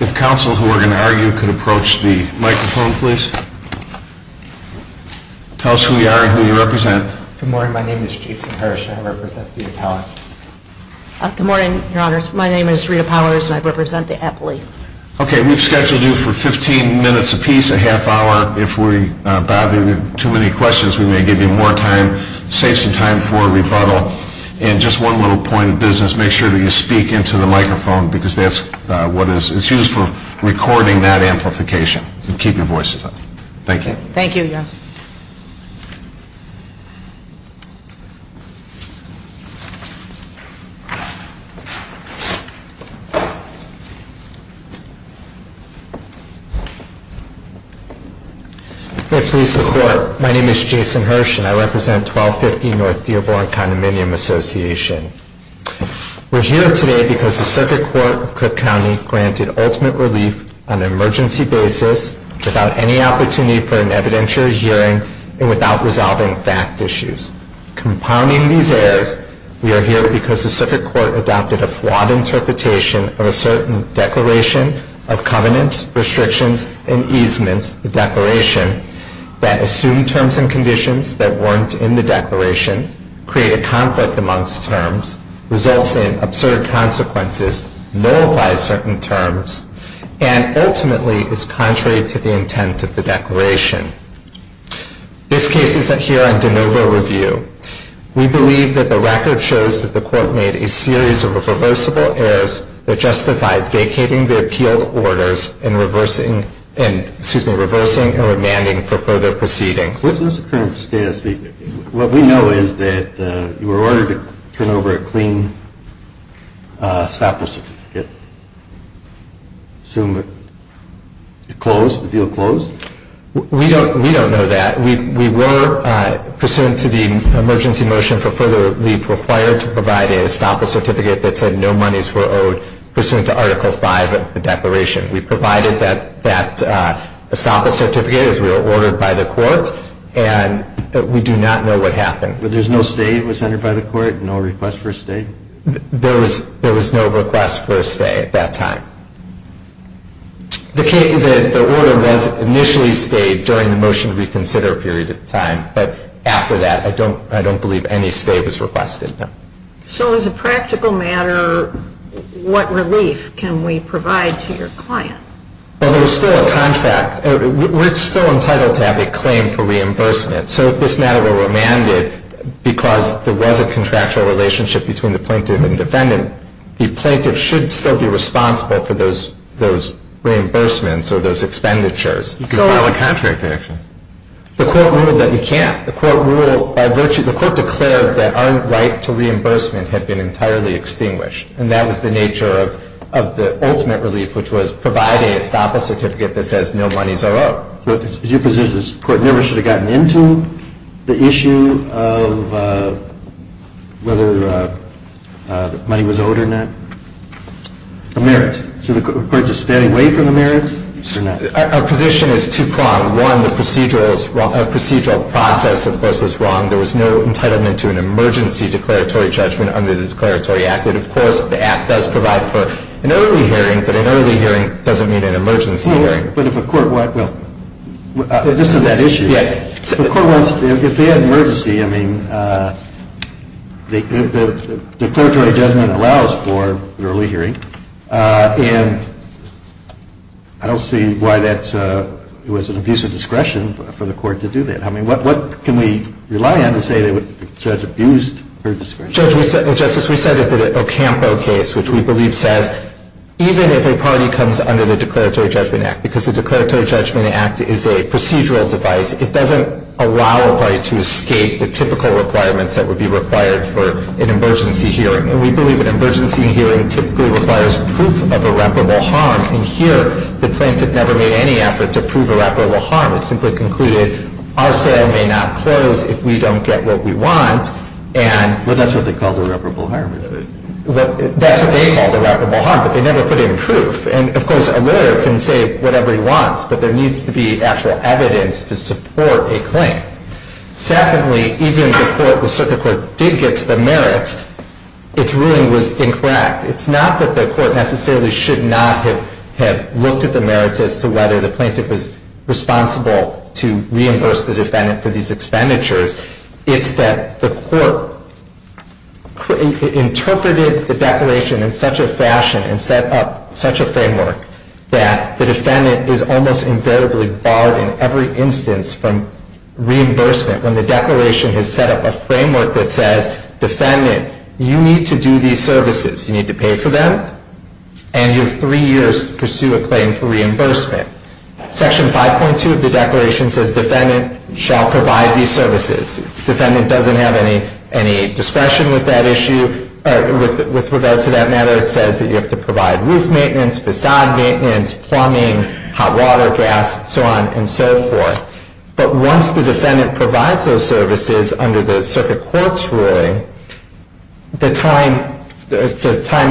If counsel who are going to argue could approach the microphone, please. Tell us who we are and who you represent. Good morning. My name is Jason Hirsch and I represent the beauty college. Good morning, your honors. My name is Rita Powers and I represent the athlete. Okay, we've scheduled you for 15 minutes a piece, a half hour. If we bother you with too many questions, we may give you more time. Save some time for a rebuttal. And just one little point of business, make sure that you speak into the microphone because that's what is used for recording that amplification. Keep your voices up. Thank you. Thank you, your honors. May it please the court, my name is Jason Hirsch and I represent 1250 North Dearborn Condominium Association. We're here today because the circuit court of Cook County granted ultimate relief on an emergency basis without any opportunity for an evidentiary hearing and without resolving fact issues. Compounding these errors, we are here because the circuit court adopted a flawed interpretation of a certain declaration of covenants, restrictions, and easements, the declaration, that assumed terms and conditions that weren't in the declaration, created conflict amongst terms, results in absurd consequences, nullifies certain terms, and ultimately is contrary to the intent of the declaration. This case is here on de novo review. We believe that the record shows that the court made a series of reversible errors that justified vacating the appealed orders and reversing, and excuse me, reversing and remanding for further proceedings. What is the current status? What we know is that you were ordered to turn over a clean sample certificate. Assume it closed, the deal closed? We don't know that. We were pursuant to the emergency motion for further relief required to provide an estoppel certificate that said no monies were owed pursuant to article 5 of the declaration. We provided that estoppel certificate as we were ordered by the court, and we do not know what happened. But there was no stay that was entered by the court? No request for a stay? There was no request for a stay at that time. The order was initially stayed during the motion to reconsider period of time, but after that, I don't believe any stay was requested. So as a practical matter, what relief can we provide to your client? Well, there was still a contract. We're still entitled to have a claim for reimbursement. So if this matter were remanded because there was a contractual relationship between the plaintiff and defendant, the plaintiff should still be responsible for those reimbursements or those expenditures. You can file a contract action. The court ruled that we can't. The court declared that our right to reimbursement had been entirely extinguished, and that was the nature of the ultimate relief, which was providing estoppel certificate that says no monies are owed. Your position is the court never should have gotten into the issue of whether money was owed or not? The merits. So the court is just standing away from the merits? Our position is two-pronged. One, the procedural process, of course, was wrong. There was no entitlement to an emergency declaratory judgment under the Declaratory Act. And, of course, the Act does provide for an early hearing, but an early hearing doesn't mean an emergency hearing. Right. But if a court, well, just on that issue, if they had an emergency, I mean, the declaratory judgment allows for an early hearing. And I don't see why that was an abuse of discretion for the court to do that. I mean, what can we rely on to say the judge abused her discretion? Judge, Justice, we cited the Ocampo case, which we believe says even if a party comes under the Declaratory Judgment Act, because the Declaratory Judgment Act is a procedural device, it doesn't allow a party to escape the typical requirements that would be required for an emergency hearing. And we believe an emergency hearing typically requires proof of irreparable harm. And here the plaintiff never made any effort to prove irreparable harm. It simply concluded our sale may not close if we don't get what we want. Well, that's what they call irreparable harm. That's what they call irreparable harm, but they never put in proof. And, of course, a lawyer can say whatever he wants, but there needs to be actual evidence to support a claim. Secondly, even if the circuit court did get to the merits, its ruling was incorrect. It's not that the court necessarily should not have looked at the merits as to whether the plaintiff was responsible to reimburse the defendant for these expenditures. It's that the court interpreted the Declaration in such a fashion and set up such a framework that the defendant is almost invariably barred in every instance from reimbursement when the Declaration has set up a framework that says, defendant, you need to do these services. You need to pay for them, and you have three years to pursue a claim for reimbursement. Section 5.2 of the Declaration says defendant shall provide these services. Defendant doesn't have any discretion with that issue. With regard to that matter, it says that you have to provide roof maintenance, facade maintenance, plumbing, hot water, gas, so on and so forth. But once the defendant provides those services under the circuit court's ruling, the time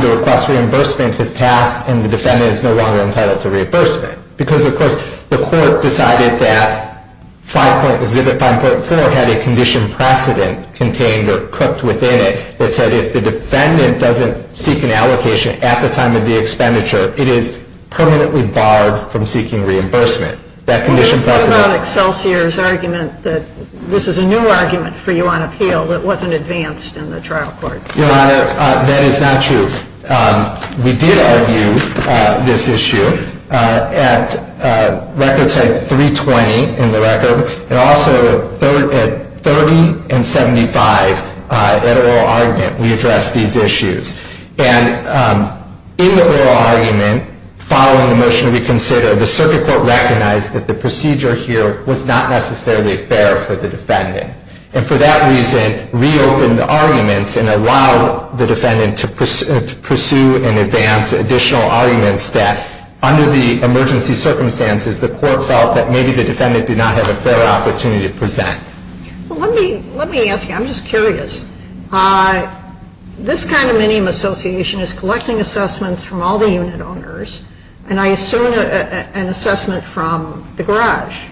to request reimbursement has passed and the defendant is no longer entitled to reimbursement because, of course, the court decided that 5.4 had a condition precedent contained or cooked within it that said if the defendant doesn't seek an allocation at the time of the expenditure, it is permanently barred from seeking reimbursement. That condition precedent. What about Excelsior's argument that this is a new argument for you on appeal that wasn't advanced in the trial court? Your Honor, that is not true. We did argue this issue at record time 320 in the record, and also at 30 and 75 at oral argument. We addressed these issues. And in the oral argument, following the motion to reconsider, the circuit court recognized that the procedure here was not necessarily fair for the defendant. And for that reason, reopened the arguments and allowed the defendant to pursue and advance additional arguments that under the emergency circumstances, the court felt that maybe the defendant did not have a fair opportunity to present. Well, let me ask you. I'm just curious. This kind of minimum association is collecting assessments from all the unit owners, and I assume an assessment from the garage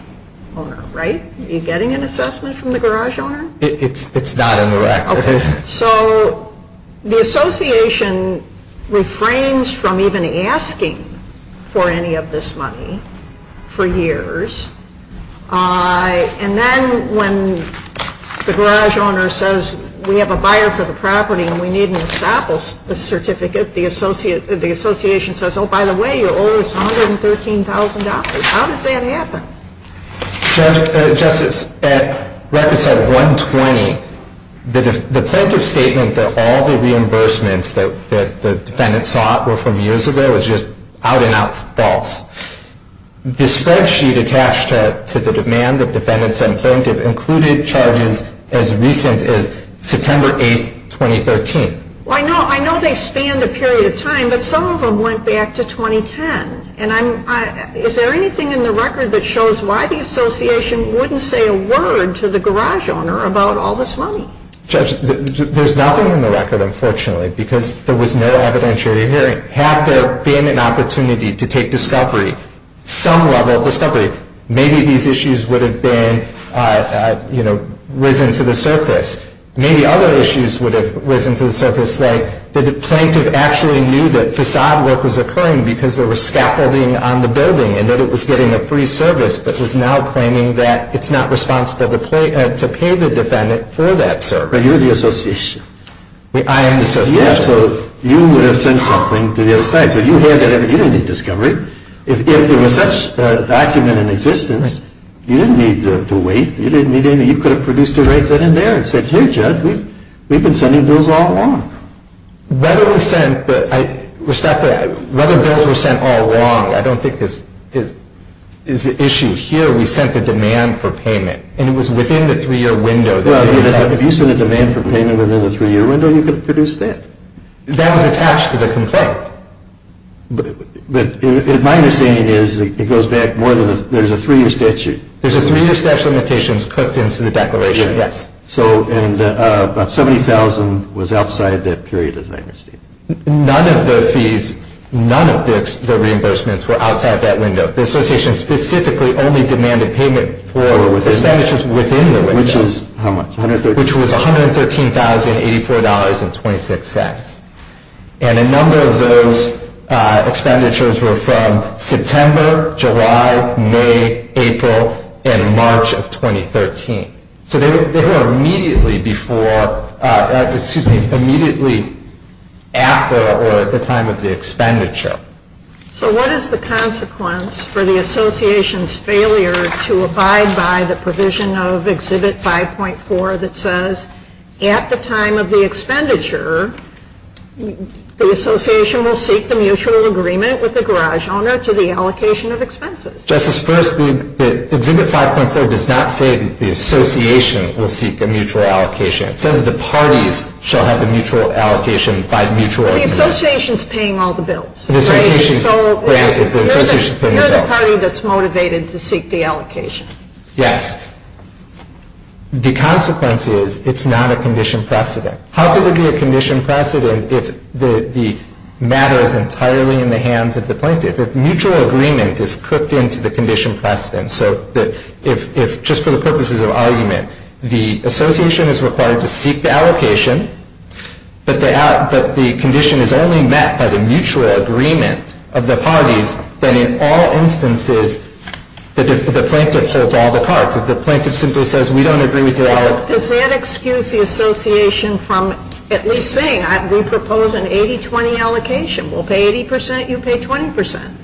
owner, right? Are you getting an assessment from the garage owner? It's not in the record. Okay. So the association refrains from even asking for any of this money for years. And then when the garage owner says we have a buyer for the property and we need an establishment certificate, the association says, oh, by the way, you owe us $113,000. How does that happen? Justice, the record says $120,000. The plaintiff's statement that all the reimbursements that the defendant sought were from years ago is just out and out false. The spreadsheet attached to the demand that defendants and plaintiffs included charges as recent as September 8, 2013. Well, I know they spanned a period of time, but some of them went back to 2010. Is there anything in the record that shows why the association wouldn't say a word to the garage owner about all this money? Judge, there's nothing in the record, unfortunately, because there was no evidentiary hearing. Had there been an opportunity to take discovery, some level of discovery, maybe these issues would have been, you know, risen to the surface. Maybe other issues would have risen to the surface, like the plaintiff actually knew that facade work was occurring because there was scaffolding on the building and that it was getting a free service, but was now claiming that it's not responsible to pay the defendant for that service. But you're the association. I am the association. Yeah, so you would have sent something to the other side. So you had that evidence. You didn't need discovery. If there was such a document in existence, you didn't need to wait. You didn't need anything. You could have produced it right then and there and said, hey, Judge, we've been sending bills all along. Whether we sent the – respectfully, whether bills were sent all along, I don't think is the issue here. We sent the demand for payment, and it was within the three-year window. Well, if you sent a demand for payment within the three-year window, you could have produced that. That was attached to the complaint. But my understanding is it goes back more than – there's a three-year statute. There's a three-year statute of limitations cooked into the declaration, yes. So about $70,000 was outside that period of time. None of the fees, none of the reimbursements were outside that window. The association specifically only demanded payment for expenditures within the window. Which is how much? Which was $113,084.26. And a number of those expenditures were from September, July, May, April, and March of 2013. So they were immediately before – excuse me, immediately after or at the time of the expenditure. So what is the consequence for the association's failure to abide by the provision of Exhibit 5.4 that says at the time of the expenditure, the association will seek the mutual agreement with the garage owner to the allocation of expenses? Justice, first, Exhibit 5.4 does not say the association will seek a mutual allocation. It says the parties shall have a mutual allocation by mutual agreement. But the association is paying all the bills. The association grants it. You're the party that's motivated to seek the allocation. Yes. The consequence is it's not a condition precedent. How could it be a condition precedent if the matter is entirely in the hands of the plaintiff? If mutual agreement is cooked into the condition precedent, so that if just for the purposes of argument, the association is required to seek the allocation, but the condition is only met by the mutual agreement of the parties, then in all instances, the plaintiff holds all the cards. If the plaintiff simply says, we don't agree with your allocation. Does that excuse the association from at least saying, we propose an 80-20 allocation. We'll pay 80 percent, you pay 20 percent.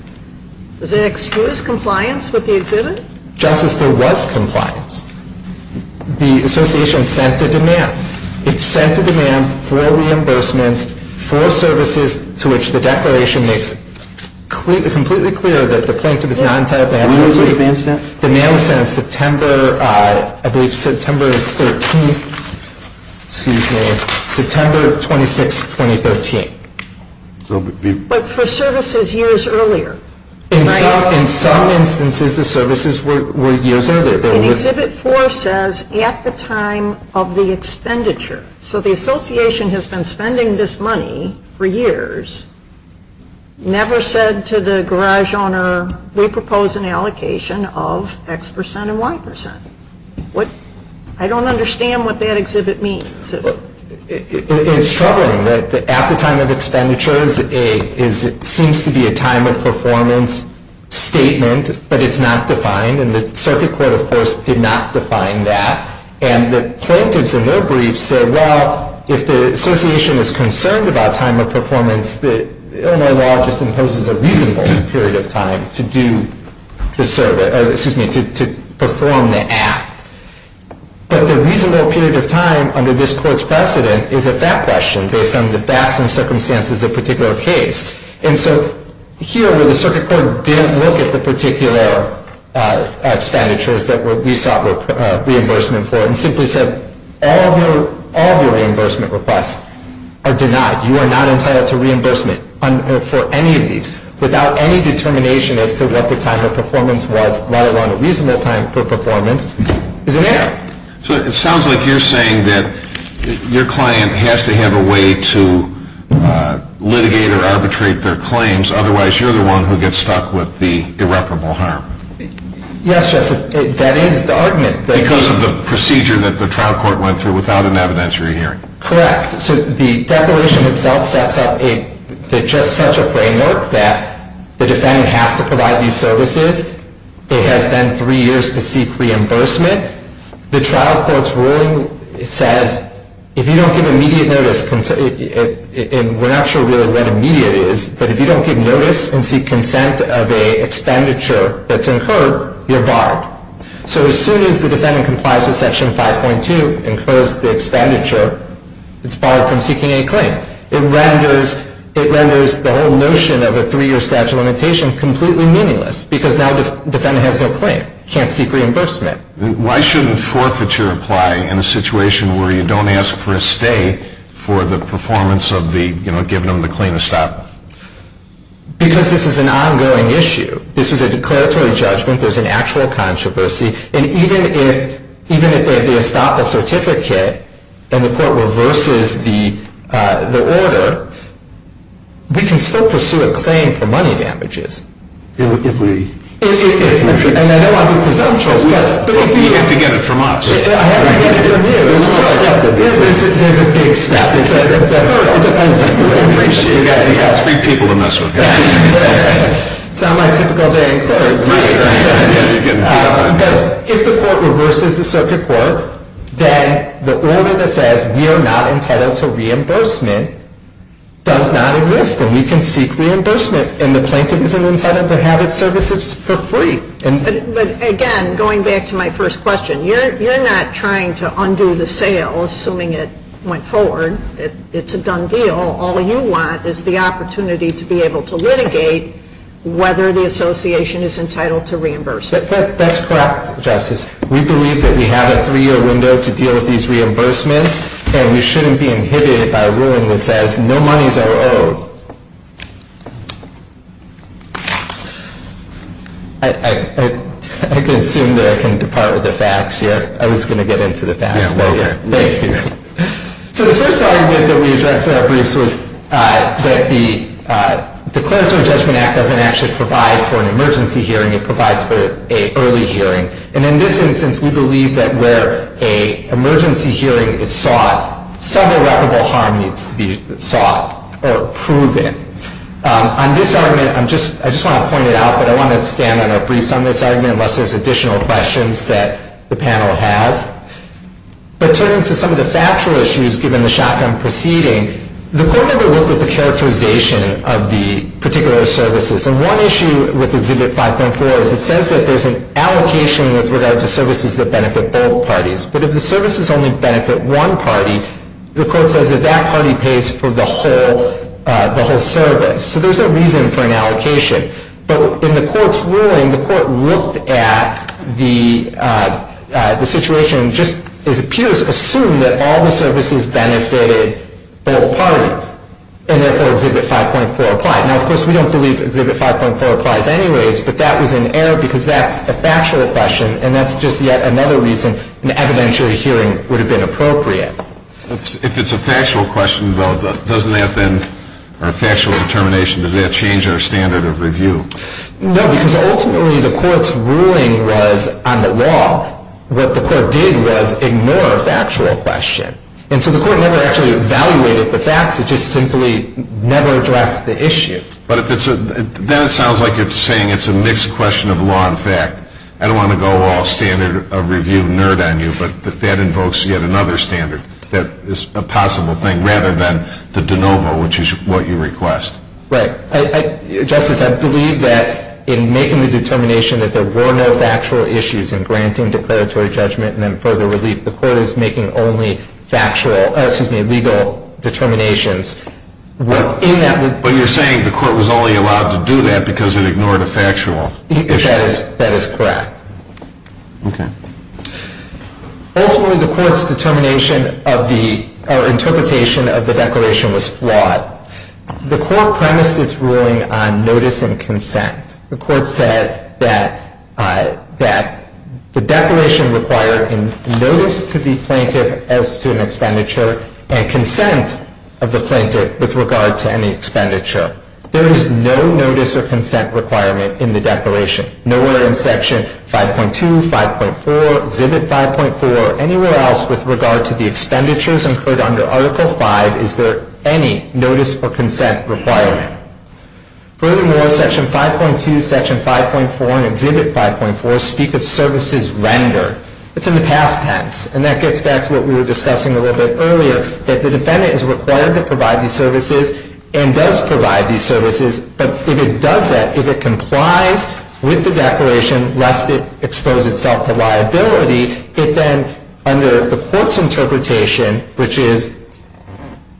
Does that excuse compliance with the exhibit? Justice, there was compliance. The association sent a demand. It sent a demand for reimbursements for services to which the declaration makes completely clear that the plaintiff is not entitled to have. The mail was sent September, I believe September 13th, excuse me, September 26th, 2013. But for services years earlier. In some instances, the services were years earlier. Exhibit 4 says, at the time of the expenditure. So the association has been spending this money for years, never said to the garage owner, we propose an allocation of X percent and Y percent. I don't understand what that exhibit means. It's troubling that at the time of expenditure seems to be a time of performance statement, but it's not defined. And the circuit court, of course, did not define that. And the plaintiffs in their brief said, well, if the association is concerned about time of performance, the Illinois law just imposes a reasonable period of time to perform the act. But the reasonable period of time under this court's precedent is a fact question based on the facts and circumstances of a particular case. And so here where the circuit court didn't look at the particular expenditures that we sought reimbursement for and simply said, all of your reimbursement requests are denied. You are not entitled to reimbursement for any of these without any determination as to what the time of performance was, let alone a reasonable time for performance, is an error. So it sounds like you're saying that your client has to have a way to litigate or arbitrate their claims. Otherwise, you're the one who gets stuck with the irreparable harm. Yes, Justice. That is the argument. Because of the procedure that the trial court went through without an evidentiary hearing. Correct. So the declaration itself sets up just such a framework that the defendant has to provide these services. It has then three years to seek reimbursement. The trial court's ruling says, if you don't give immediate notice, and we're not sure really what immediate is, but if you don't give notice and seek consent of a expenditure that's incurred, you're barred. So as soon as the defendant complies with Section 5.2 and closes the expenditure, it's barred from seeking a claim. It renders the whole notion of a three-year statute of limitation completely meaningless because now the defendant has no claim, can't seek reimbursement. Why shouldn't forfeiture apply in a situation where you don't ask for a stay for the performance of the, you know, giving them the claim to stop? Because this is an ongoing issue. This was a declaratory judgment. There's an actual controversy. And even if they stop a certificate and the court reverses the order, we can still pursue a claim for money damages. If we? If we. And I know I'm being presumptuous. You have to get it from us. I have to get it from you. There's a big step. It's a hurdle. It depends. It's three people to mess with. It's not my typical day in court. Right. But if the court reverses the circuit court, then the order that says we are not entitled to reimbursement does not exist. And we can seek reimbursement. And the plaintiff isn't entitled to have its services for free. But again, going back to my first question, you're not trying to undo the sale, assuming it went forward. It's a done deal. All you want is the opportunity to be able to litigate whether the association is entitled to reimbursement. That's correct, Justice. We believe that we have a three-year window to deal with these reimbursements. And we shouldn't be inhibited by a ruling that says no monies are owed. I can assume that I can depart with the facts here. I was going to get into the facts. Thank you. So the first argument that we addressed in our briefs was that the Declaratory Judgment Act doesn't actually provide for an emergency hearing. It provides for an early hearing. And in this instance, we believe that where an emergency hearing is sought, some irreparable harm needs to be sought or proven. On this argument, I just want to point it out, but I want to stand on our briefs on this argument unless there's additional questions that the panel has. But turning to some of the factual issues given the shotgun proceeding, the court never looked at the characterization of the particular services. And one issue with Exhibit 5.4 is it says that there's an allocation with regard to services that benefit both parties. But if the services only benefit one party, the court says that that party pays for the whole service. So there's no reason for an allocation. But in the court's ruling, the court looked at the situation and just, it appears, assumed that all the services benefited both parties, and therefore Exhibit 5.4 applied. Now, of course, we don't believe Exhibit 5.4 applies anyways, but that was an error because that's a factual question, and that's just yet another reason an evidentiary hearing would have been appropriate. If it's a factual question, though, doesn't that then, or a factual determination, does that change our standard of review? No, because ultimately the court's ruling was on the law. What the court did was ignore a factual question. And so the court never actually evaluated the facts. It just simply never addressed the issue. But if it's a, then it sounds like you're saying it's a mixed question of law and fact. I don't want to go all standard of review nerd on you, but that invokes yet another standard that is a possible thing, rather than the de novo, which is what you request. Right. Justice, I believe that in making the determination that there were no factual issues in granting declaratory judgment and then further relief, the court is making only factual, excuse me, legal determinations. But you're saying the court was only allowed to do that because it ignored a factual issue. That is correct. Okay. Ultimately, the court's determination of the, or interpretation of the declaration was flawed. The court premised its ruling on notice and consent. The court said that the declaration required notice to the plaintiff as to an expenditure and consent of the plaintiff with regard to any expenditure. There is no notice or consent requirement in the declaration. Nowhere in Section 5.2, 5.4, Exhibit 5.4, or anywhere else with regard to the expenditures incurred under Article V is there any notice or consent requirement. Furthermore, Section 5.2, Section 5.4, and Exhibit 5.4 speak of services rendered. It's in the past tense. And that gets back to what we were discussing a little bit earlier, that the defendant is required to provide these services and does provide these services. But if it does that, if it complies with the declaration, lest it expose itself to liability, it then, under the court's interpretation, which is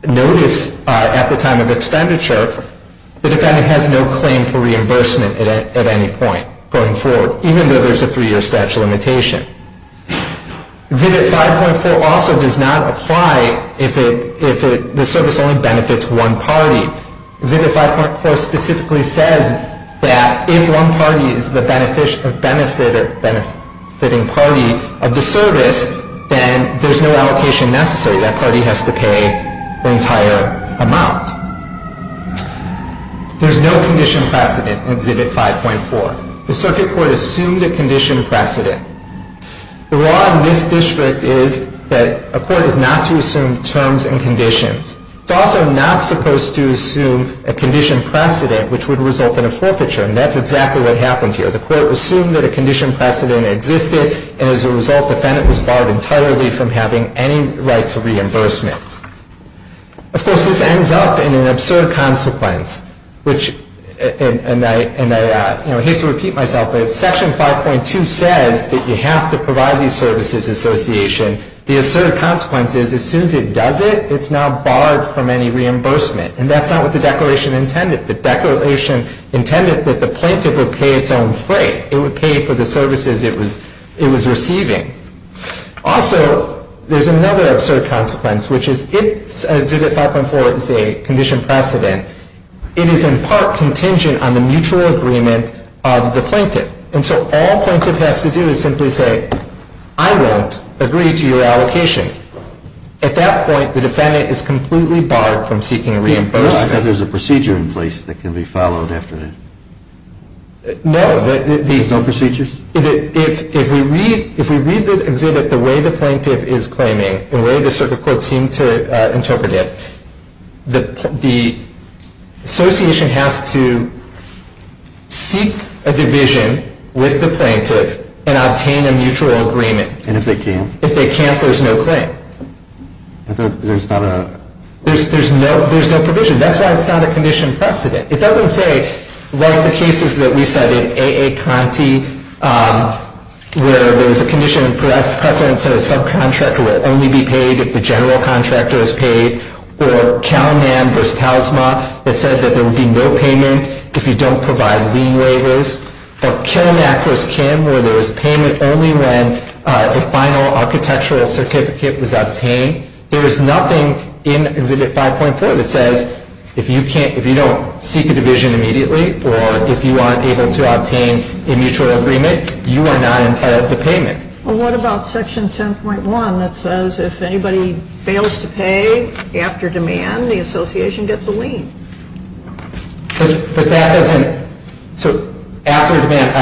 notice at the time of expenditure, the defendant has no claim for reimbursement at any point going forward, even though there's a three-year statute of limitation. Exhibit 5.4 also does not apply if the service only benefits one party. Exhibit 5.4 specifically says that if one party is the benefitting party of the service, then there's no allocation necessary. That party has to pay the entire amount. There's no condition precedent in Exhibit 5.4. The circuit court assumed a condition precedent. The law in this district is that a court is not to assume terms and conditions. It's also not supposed to assume a condition precedent, which would result in a forfeiture. And that's exactly what happened here. The court assumed that a condition precedent existed. And as a result, the defendant was barred entirely from having any right to reimbursement. Of course, this ends up in an absurd consequence, which, and I hate to repeat myself, but if Section 5.2 says that you have to provide these services association, the absurd consequence is as soon as it does it, it's now barred from any reimbursement. And that's not what the declaration intended. The declaration intended that the plaintiff would pay its own freight. It would pay for the services it was receiving. Also, there's another absurd consequence, which is if Exhibit 5.4 is a condition precedent, it is in part contingent on the mutual agreement of the plaintiff. And so all the plaintiff has to do is simply say, I won't agree to your allocation. At that point, the defendant is completely barred from seeking reimbursement. I thought there was a procedure in place that can be followed after that. No. There's no procedures? If we read the exhibit the way the plaintiff is claiming, the way the circuit court seemed to interpret it, the association has to seek a division with the plaintiff and obtain a mutual agreement. And if they can't? If they can't, there's no claim. There's not a? There's no provision. That's why it's not a condition precedent. It doesn't say, like the cases that we said in A.A. Conte, where there was a condition precedent that said a subcontractor would only be paid if the general contractor was paid, or Cal-NAM v. CalSMA that said that there would be no payment if you don't provide lien waivers, or Kilnac v. Kim where there was payment only when a final architectural certificate was obtained. There is nothing in Exhibit 5.4 that says if you don't seek a division immediately or if you aren't able to obtain a mutual agreement, you are not entitled to payment. Well, what about Section 10.1 that says if anybody fails to pay after demand, the association gets a lien? But that doesn't? So after demand,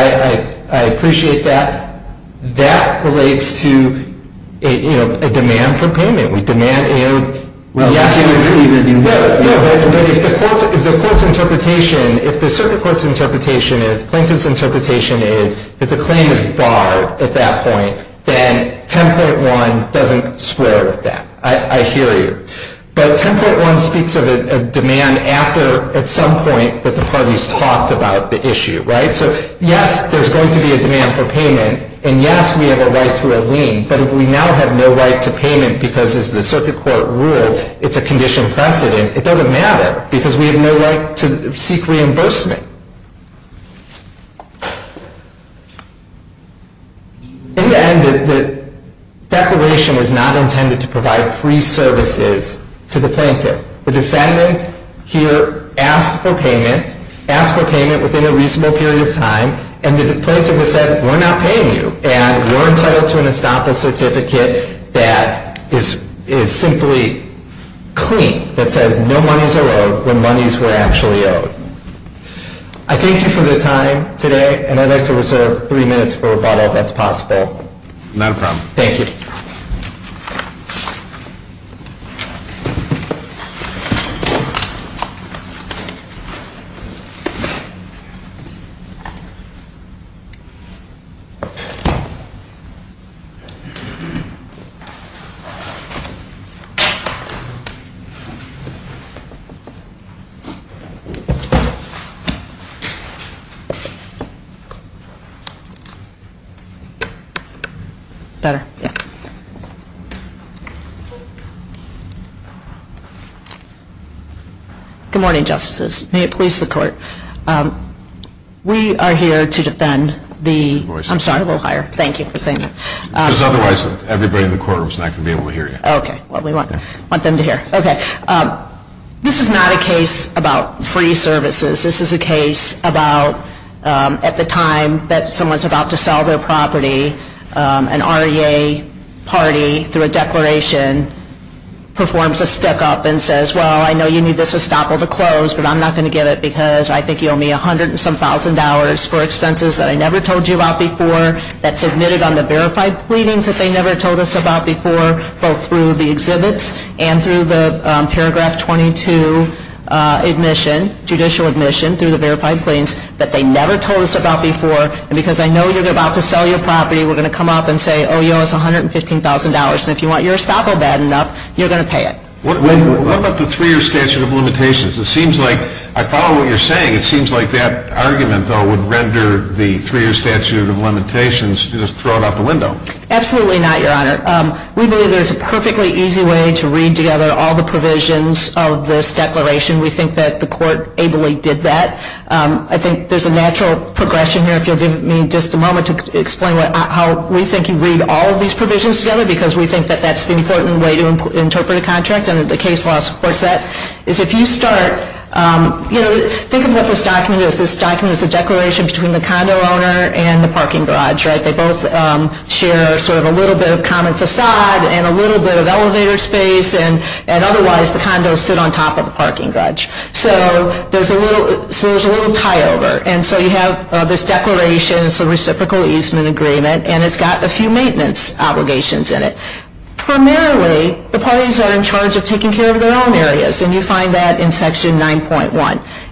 I appreciate that. That relates to a demand for payment. We demand A.O. Well, yes, it would really be that you would. No, but if the court's interpretation, if the circuit court's interpretation, if Plaintiff's interpretation is that the claim is barred at that point, then 10.1 doesn't square with that. I hear you. But 10.1 speaks of a demand after, at some point, that the parties talked about the issue, right? So yes, there's going to be a demand for payment. And yes, we have a right to a lien. But if we now have no right to payment because, as the circuit court ruled, it's a condition precedent, it doesn't matter because we have no right to seek reimbursement. In the end, the declaration was not intended to provide free services to the plaintiff. The defendant here asked for payment, asked for payment within a reasonable period of time. And the plaintiff has said, we're not paying you. And we're entitled to an estoppel certificate that is simply clean, that says no monies are owed when monies were actually owed. I thank you for the time today. And I'd like to reserve three minutes for rebuttal, if that's possible. Not a problem. Thank you. Thank you. Good morning, Justices. May it please the Court. We are here to defend the – I'm sorry, a little higher. Thank you for saying that. Because otherwise, everybody in the courtroom is not going to be able to hear you. Okay. Well, we want them to hear. Okay. This is not a case about free services. This is a case about at the time that someone's about to sell their property, an REA party through a declaration performs a stick-up and says, well, I know you need this estoppel to close, but I'm not going to give it because I think you owe me a hundred and some thousand dollars for expenses that I never told you about before that's admitted on the verified pleadings that they never told us about before, both through the exhibits and through the paragraph 22 admission, judicial admission, through the verified pleadings that they never told us about before. And because I know you're about to sell your property, we're going to come up and say, oh, you owe us $115,000. And if you want your estoppel bad enough, you're going to pay it. What about the three-year statute of limitations? It seems like – I follow what you're saying. It seems like that argument, though, would render the three-year statute of limitations, just throw it out the window. Absolutely not, Your Honor. We believe there's a perfectly easy way to read together all the provisions of this declaration. We think that the Court ably did that. I think there's a natural progression here. If you'll give me just a moment to explain how we think you read all of these provisions together because we think that that's the important way to interpret a contract under the case law support set, is if you start – think of what this document is. This document is a declaration between the condo owner and the parking garage, right? They both share sort of a little bit of common facade and a little bit of elevator space, and otherwise the condos sit on top of the parking garage. So there's a little tie-over. And so you have this declaration, it's a reciprocal easement agreement, and it's got a few maintenance obligations in it. Primarily, the parties are in charge of taking care of their own areas, and you find that in Section 9.1.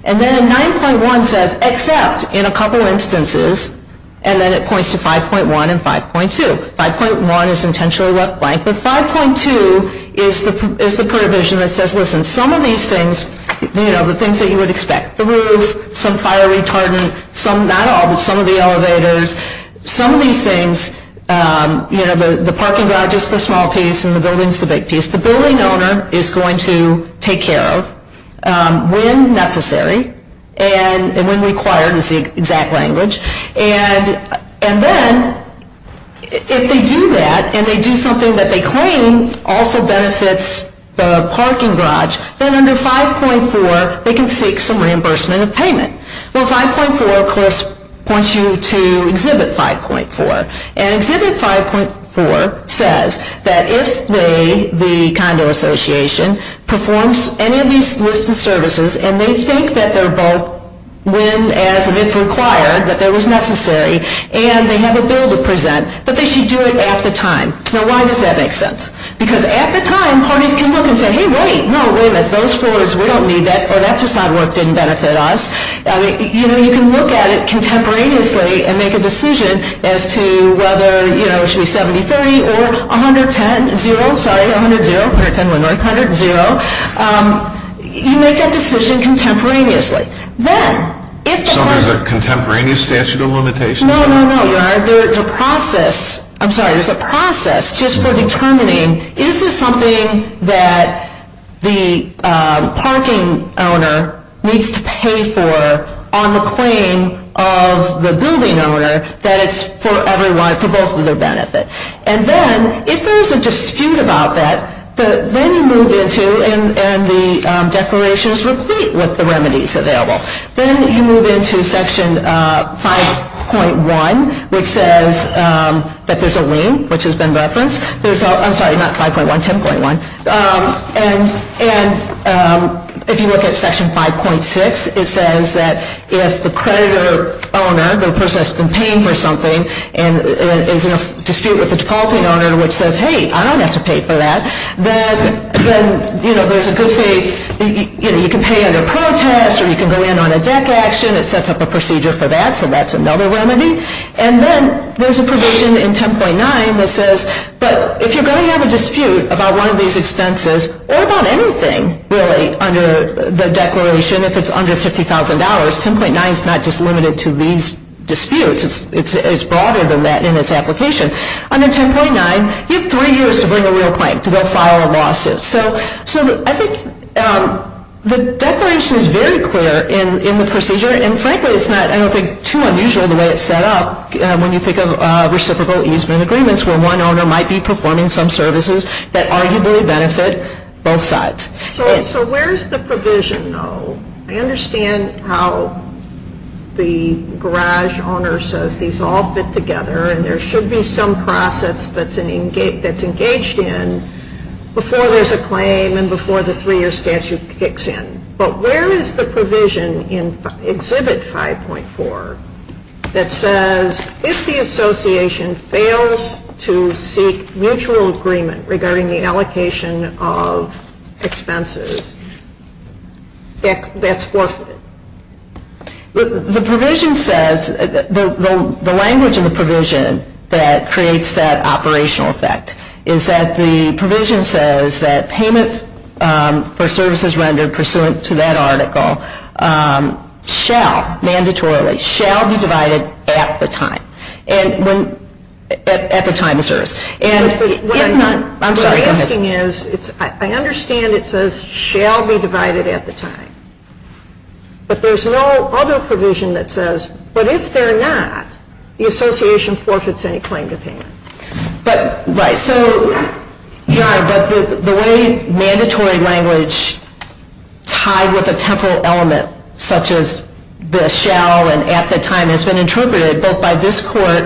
And then 9.1 says, except in a couple instances, and then it points to 5.1 and 5.2. 5.1 is intentionally left blank, but 5.2 is the provision that says, listen, some of these things, you know, the things that you would expect, the roof, some fire retardant, some – not all, but some of the elevators, some of these things, you know, the parking garage is the small piece and the building is the big piece. The building owner is going to take care of when necessary and when required is the exact language. And then if they do that and they do something that they claim also benefits the parking garage, then under 5.4 they can seek some reimbursement of payment. Well, 5.4, of course, points you to Exhibit 5.4. And Exhibit 5.4 says that if they, the condo association, performs any of these listed services and they think that they're both when and if required, that there was necessary, and they have a bill to present, that they should do it at the time. Now, why does that make sense? Because at the time parties can look and say, hey, wait, no, wait a minute, those floors, we don't need that, or that facade work didn't benefit us. You know, you can look at it contemporaneously and make a decision as to whether, you know, it should be 70-30 or 110-0, sorry, 110-0, you make that decision contemporaneously. So there's a contemporaneous statute of limitations? No, no, no. There's a process, I'm sorry, there's a process just for determining, is this something that the parking owner needs to pay for on the claim of the building owner that it's for everyone, for both of their benefit. And then if there is a dispute about that, then you move into, and the declaration is complete with the remedies available. Then you move into Section 5.1, which says that there's a lien, which has been referenced. There's a, I'm sorry, not 5.1, 10.1, and if you look at Section 5.6, it says that if the creditor owner, the person that's been paying for something, is in a dispute with the defaulting owner, which says, hey, I don't have to pay for that, then there's a good faith, you can pay under protest, or you can go in on a deck action. It sets up a procedure for that, so that's another remedy. And then there's a provision in 10.9 that says, but if you're going to have a dispute about one of these expenses, or about anything, really, under the declaration, if it's under $50,000, 10.9 is not just limited to these disputes. It's broader than that in its application. Under 10.9, you have three years to bring a real claim, to go file a lawsuit. So I think the declaration is very clear in the procedure, and frankly, it's not, I don't think, too unusual the way it's set up when you think of reciprocal easement agreements, where one owner might be performing some services that arguably benefit both sides. So where's the provision, though? I understand how the garage owner says these all fit together, and there should be some process that's engaged in before there's a claim, and before the three-year statute kicks in. But where is the provision in Exhibit 5.4 that says, if the association fails to seek mutual agreement regarding the allocation of expenses, that's forfeited? The provision says, the language in the provision that creates that operational effect, is that the provision says that payment for services rendered pursuant to that article shall, mandatorily, shall be divided at the time. And when, at the time of service. What I'm asking is, I understand it says, shall be divided at the time. But there's no other provision that says, but if they're not, the association forfeits any claim to payment. Right, so, but the way mandatory language tied with a temporal element, such as the shall and at the time has been interpreted, both by this court,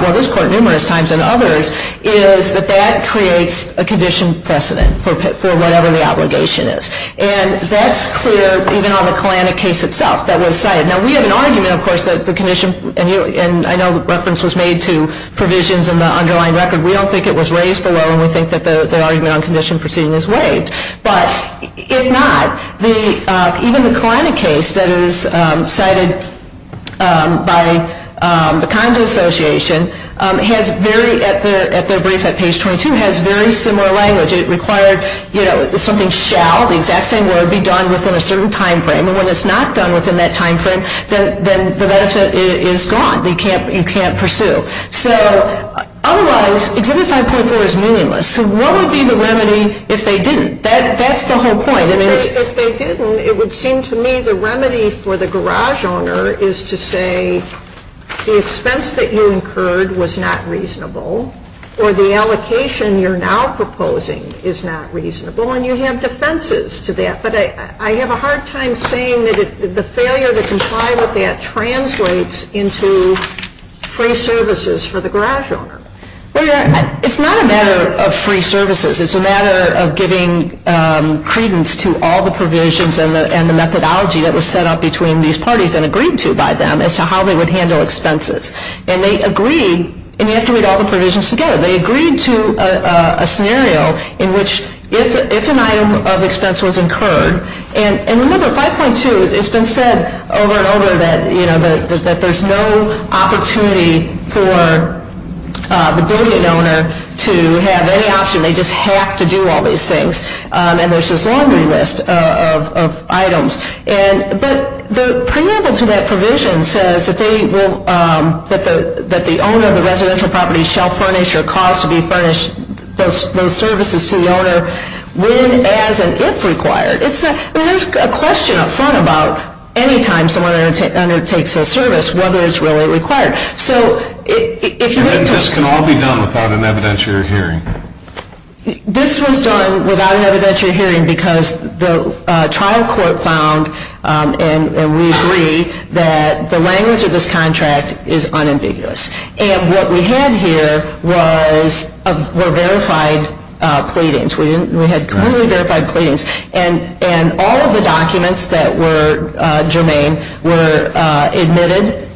well, this court numerous times, and others, is that that creates a condition precedent for whatever the obligation is. And that's clear even on the Kalanick case itself that was cited. Now, we have an argument, of course, that the condition, and I know the reference was made to provisions in the underlying record. We don't think it was raised below, and we think that the argument on condition proceeding is waived. But, if not, even the Kalanick case that is cited by the Condo Association, has very, at their brief at page 22, has very similar language. It required, you know, something shall, the exact same word, be done within a certain time frame. And when it's not done within that time frame, then the benefit is gone. You can't pursue. So, otherwise, Exhibit 5.4 is meaningless. So, what would be the remedy if they didn't? That's the whole point. If they didn't, it would seem to me the remedy for the garage owner is to say, the expense that you incurred was not reasonable, or the allocation you're now proposing is not reasonable. And you have defenses to that. But I have a hard time saying that the failure to comply with that translates into free services for the garage owner. Well, it's not a matter of free services. It's a matter of giving credence to all the provisions and the methodology that was set up between these parties and agreed to by them as to how they would handle expenses. And they agreed, and you have to read all the provisions together, they agreed to a scenario in which if an item of expense was incurred, and remember, 5.2, it's been said over and over that, you know, that there's no opportunity for the building owner to have any option. They just have to do all these things. And there's this laundry list of items. But the preamble to that provision says that the owner of the residential property shall furnish or cause to be furnished those services to the owner when and if required. There's a question up front about any time someone undertakes a service, whether it's really required. And this can all be done without an evidentiary hearing. This was done without an evidentiary hearing because the trial court found, and we agree, that the language of this contract is unambiguous. And what we had here were verified pleadings. We had completely verified pleadings. And all of the documents that were germane were admitted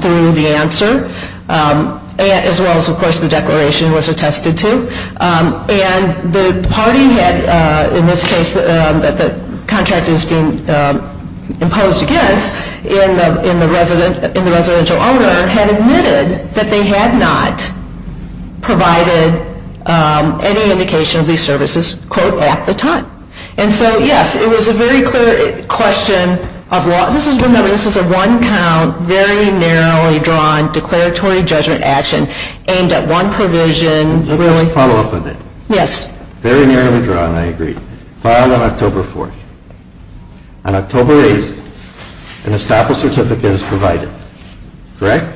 through the answer, as well as, of course, the declaration was attested to. And the party had, in this case, that the contract is being imposed against, and the residential owner had admitted that they had not provided any indication of these services, quote, at the time. And so, yes, it was a very clear question of law. This is a one-count, very narrowly drawn declaratory judgment action aimed at one provision. Let's follow up on that. Yes. Very narrowly drawn, I agree. Filed on October 4th. On October 8th, an estoppel certificate is provided. Correct?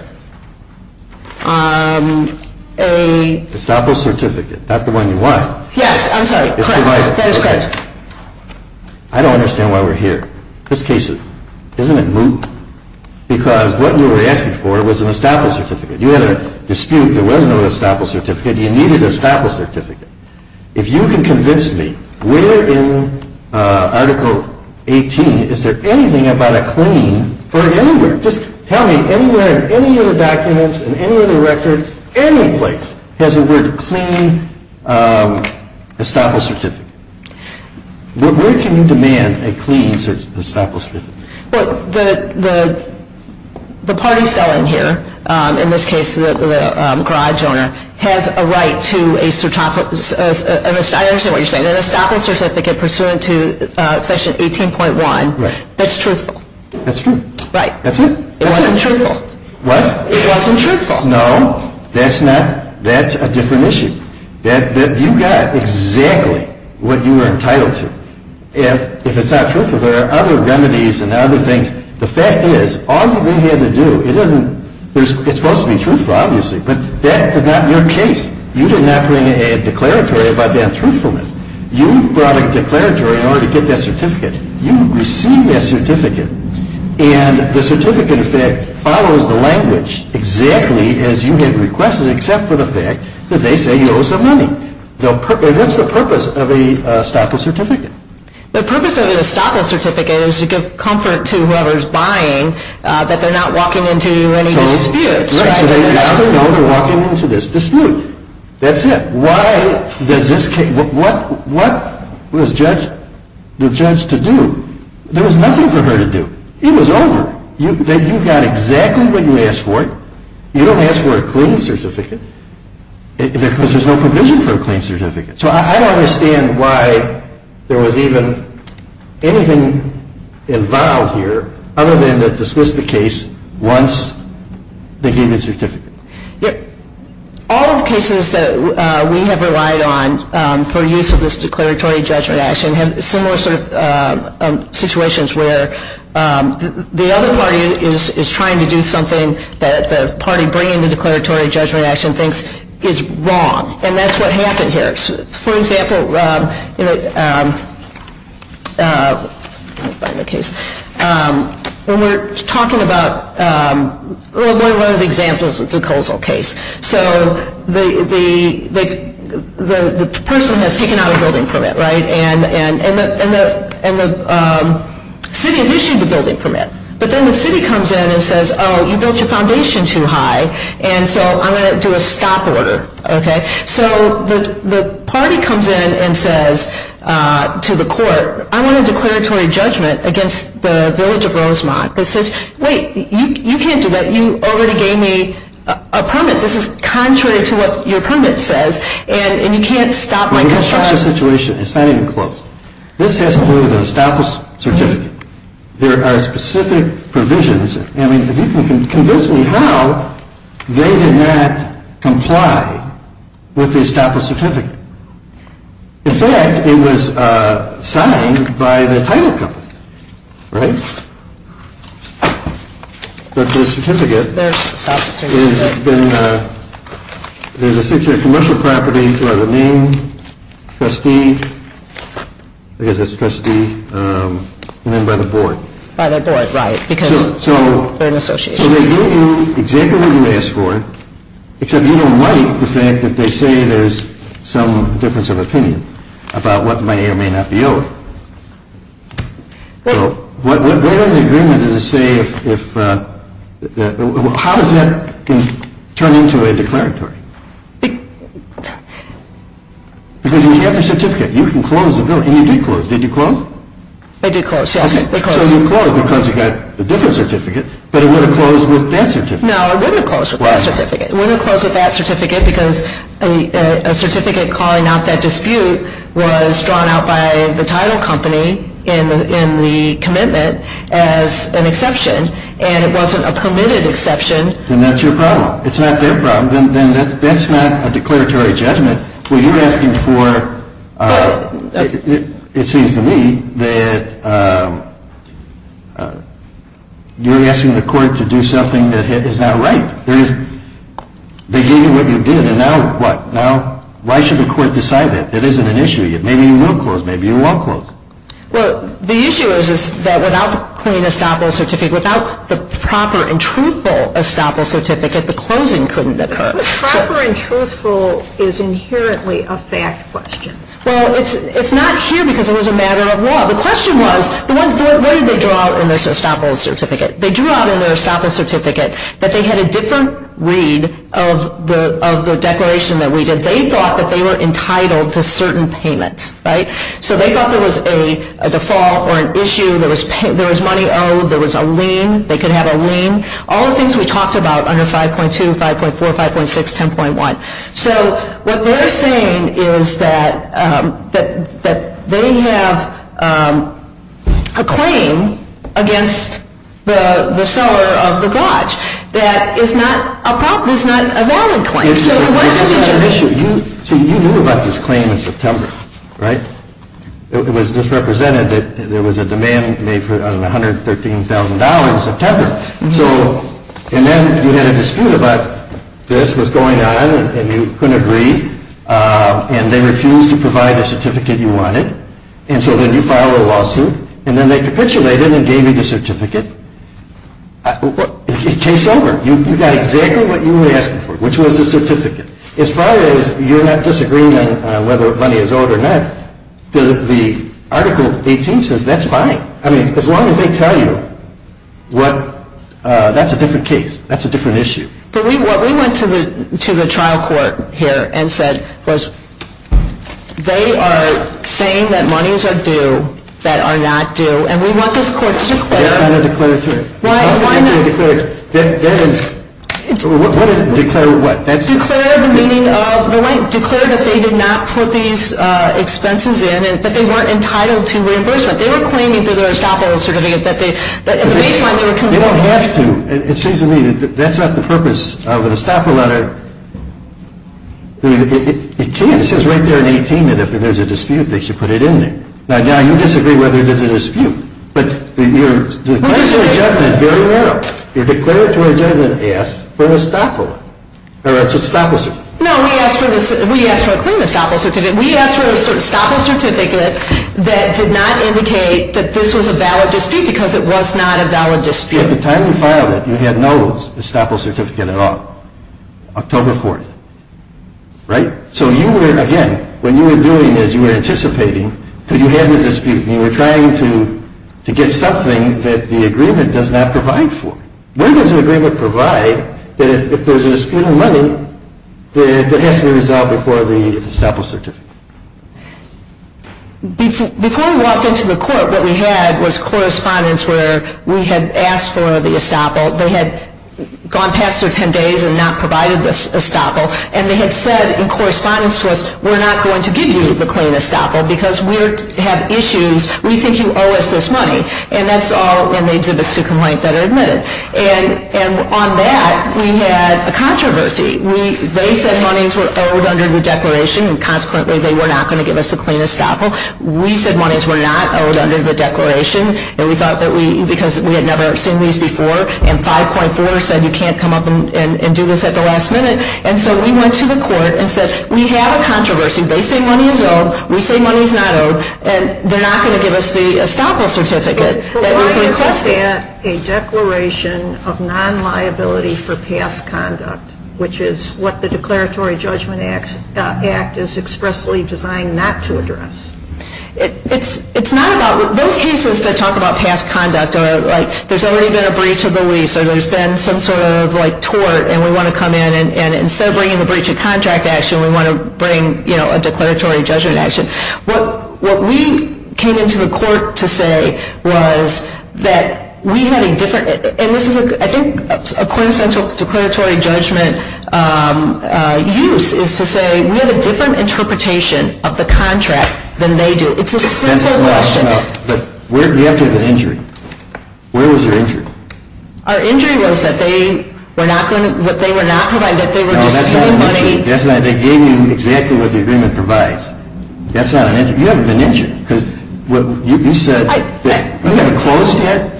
Estoppel certificate, not the one you want. Yes, I'm sorry. Correct. That is correct. I don't understand why we're here. This case, isn't it moot? Because what you were asking for was an estoppel certificate. You had a dispute. There was no estoppel certificate. You needed an estoppel certificate. If you can convince me, where in Article 18 is there anything about a claim or anywhere? Just tell me. Anywhere in any of the documents, in any of the records, any place has the word clean estoppel certificate. Where can you demand a clean estoppel certificate? Well, the party selling here, in this case the garage owner, has a right to a, I understand what you're saying, an estoppel certificate pursuant to Section 18.1 that's truthful. That's true. Right. That's it. It wasn't truthful. What? It wasn't truthful. No, that's not, that's a different issue. You got exactly what you were entitled to. If it's not truthful, there are other remedies and other things. The fact is, all you really had to do, it's supposed to be truthful, obviously, but that was not your case. You did not bring a declaratory about the untruthfulness. You brought a declaratory in order to get that certificate. You received that certificate, and the certificate, in effect, follows the language exactly as you had requested, except for the fact that they say you owe some money. What's the purpose of an estoppel certificate? The purpose of an estoppel certificate is to give comfort to whoever's buying that they're not walking into any disputes. Right. So they either know they're walking into this dispute. That's it. Why does this case, what was the judge to do? There was nothing for her to do. It was over. You got exactly what you asked for. You don't ask for a clean certificate because there's no provision for a clean certificate. So I don't understand why there was even anything involved here other than to dismiss the case once they gave the certificate. All of the cases that we have relied on for use of this declaratory judgment action have similar sort of situations where the other party is trying to do something that the party bringing the declaratory judgment action thinks is wrong, and that's what happened here. For example, when we're talking about one of the examples, it's a Kozol case. So the person has taken out a building permit, right, and the city has issued the building permit. But then the city comes in and says, oh, you built your foundation too high, and so I'm going to do a stop order. Okay? So the party comes in and says to the court, I want a declaratory judgment against the village of Rosemont. It says, wait, you can't do that. You already gave me a permit. This is contrary to what your permit says, and you can't stop my construction. It's not even close. This has to do with an established certificate. There are specific provisions. I mean, if you can convince me how they did not comply with the established certificate. In fact, it was signed by the title company, right? But the certificate is a six-year commercial property by the name, trustee, and then by the board. By the board, right. Because they're an association. So they gave you exactly what you asked for, except you don't like the fact that they say there's some difference of opinion about what may or may not be owed. Where in the agreement does it say if – how does that turn into a declaratory? Because when you have your certificate, you can close the building, and you did close. Did you close? I did close, yes. So you closed because you got a different certificate, but it would have closed with that certificate. No, it wouldn't have closed with that certificate. It wouldn't have closed with that certificate because a certificate calling out that dispute was drawn out by the title company in the commitment as an exception, and it wasn't a permitted exception. Then that's your problem. It's not their problem. Then that's not a declaratory judgment. Well, you're asking for – it seems to me that you're asking the court to do something that is not right. They gave you what you did, and now what? Now why should the court decide that? It isn't an issue yet. Maybe you will close. Maybe you won't close. Well, the issue is that without the clean estoppel certificate, without the proper and truthful estoppel certificate, the closing couldn't occur. Proper and truthful is inherently a fact question. Well, it's not here because it was a matter of law. The question was, what did they draw out in this estoppel certificate? They drew out in their estoppel certificate that they had a different read of the declaration that we did. They thought that they were entitled to certain payments, right? So they thought there was a default or an issue. There was money owed. There was a lien. They could have a lien. All the things we talked about under 5.2, 5.4, 5.6, 10.1. So what they're saying is that they have a claim against the seller of the gauge that is not a valid claim. See, you knew about this claim in September, right? It was just represented that there was a demand made for $113,000 in September. And then you had a dispute about this was going on and you couldn't agree. And they refused to provide the certificate you wanted. And so then you filed a lawsuit. And then they capitulated and gave you the certificate. Case over. You got exactly what you were asking for, which was the certificate. As far as you're not disagreeing on whether money is owed or not, the Article 18 says that's fine. I mean, as long as they tell you that's a different case, that's a different issue. But what we went to the trial court here and said was they are saying that monies are due that are not due. And we want this court to declare. That's not a declared claim. What is declared what? Declared the meaning of the lien. Declared that they did not put these expenses in and that they weren't entitled to reimbursement. They were claiming through their estoppel certificate that at the baseline they were completing. You don't have to. It seems to me that that's not the purpose of an estoppel letter. It can. It says right there in 18 that if there's a dispute, they should put it in there. Now, you disagree whether there's a dispute. But your declaratory judgment is very narrow. Your declaratory judgment asks for an estoppel. Or it's an estoppel certificate. No, we asked for a clean estoppel certificate. We asked for an estoppel certificate that did not indicate that this was a valid dispute because it was not a valid dispute. At the time you filed it, you had no estoppel certificate at all. October 4th. Right? So you were, again, when you were doing this, you were anticipating that you had a dispute. And you were trying to get something that the agreement does not provide for. When does an agreement provide that if there's a dispute on money, that it has to be resolved before the estoppel certificate? Before we walked into the court, what we had was correspondence where we had asked for the estoppel. They had gone past their 10 days and not provided the estoppel. And they had said in correspondence to us, we're not going to give you the clean estoppel because we have issues. We think you owe us this money. And that's all in the exhibits to complaint that are admitted. And on that, we had a controversy. They said monies were owed under the declaration. And consequently, they were not going to give us the clean estoppel. We said monies were not owed under the declaration. And we thought that we, because we had never seen these before, and 5.4 said you can't come up and do this at the last minute. And so we went to the court and said, we have a controversy. They say money is owed. We say money is not owed. And they're not going to give us the estoppel certificate. Why is that a declaration of non-liability for past conduct, which is what the Declaratory Judgment Act is expressly designed not to address? It's not about, those cases that talk about past conduct are like there's already been a breach of the lease or there's been some sort of like tort and we want to come in and instead of bringing the breach of contract action, we want to bring, you know, a declaratory judgment action. What we came into the court to say was that we had a different, and this is, I think, a quintessential declaratory judgment use is to say we have a different interpretation of the contract than they do. It's a simple question. But where, you have to have an injury. Where was your injury? Our injury was that they were not going to, what they were not providing, that they were just giving money. That's not it. They gave you exactly what the agreement provides. That's not an injury. You haven't been injured because you said you haven't closed yet.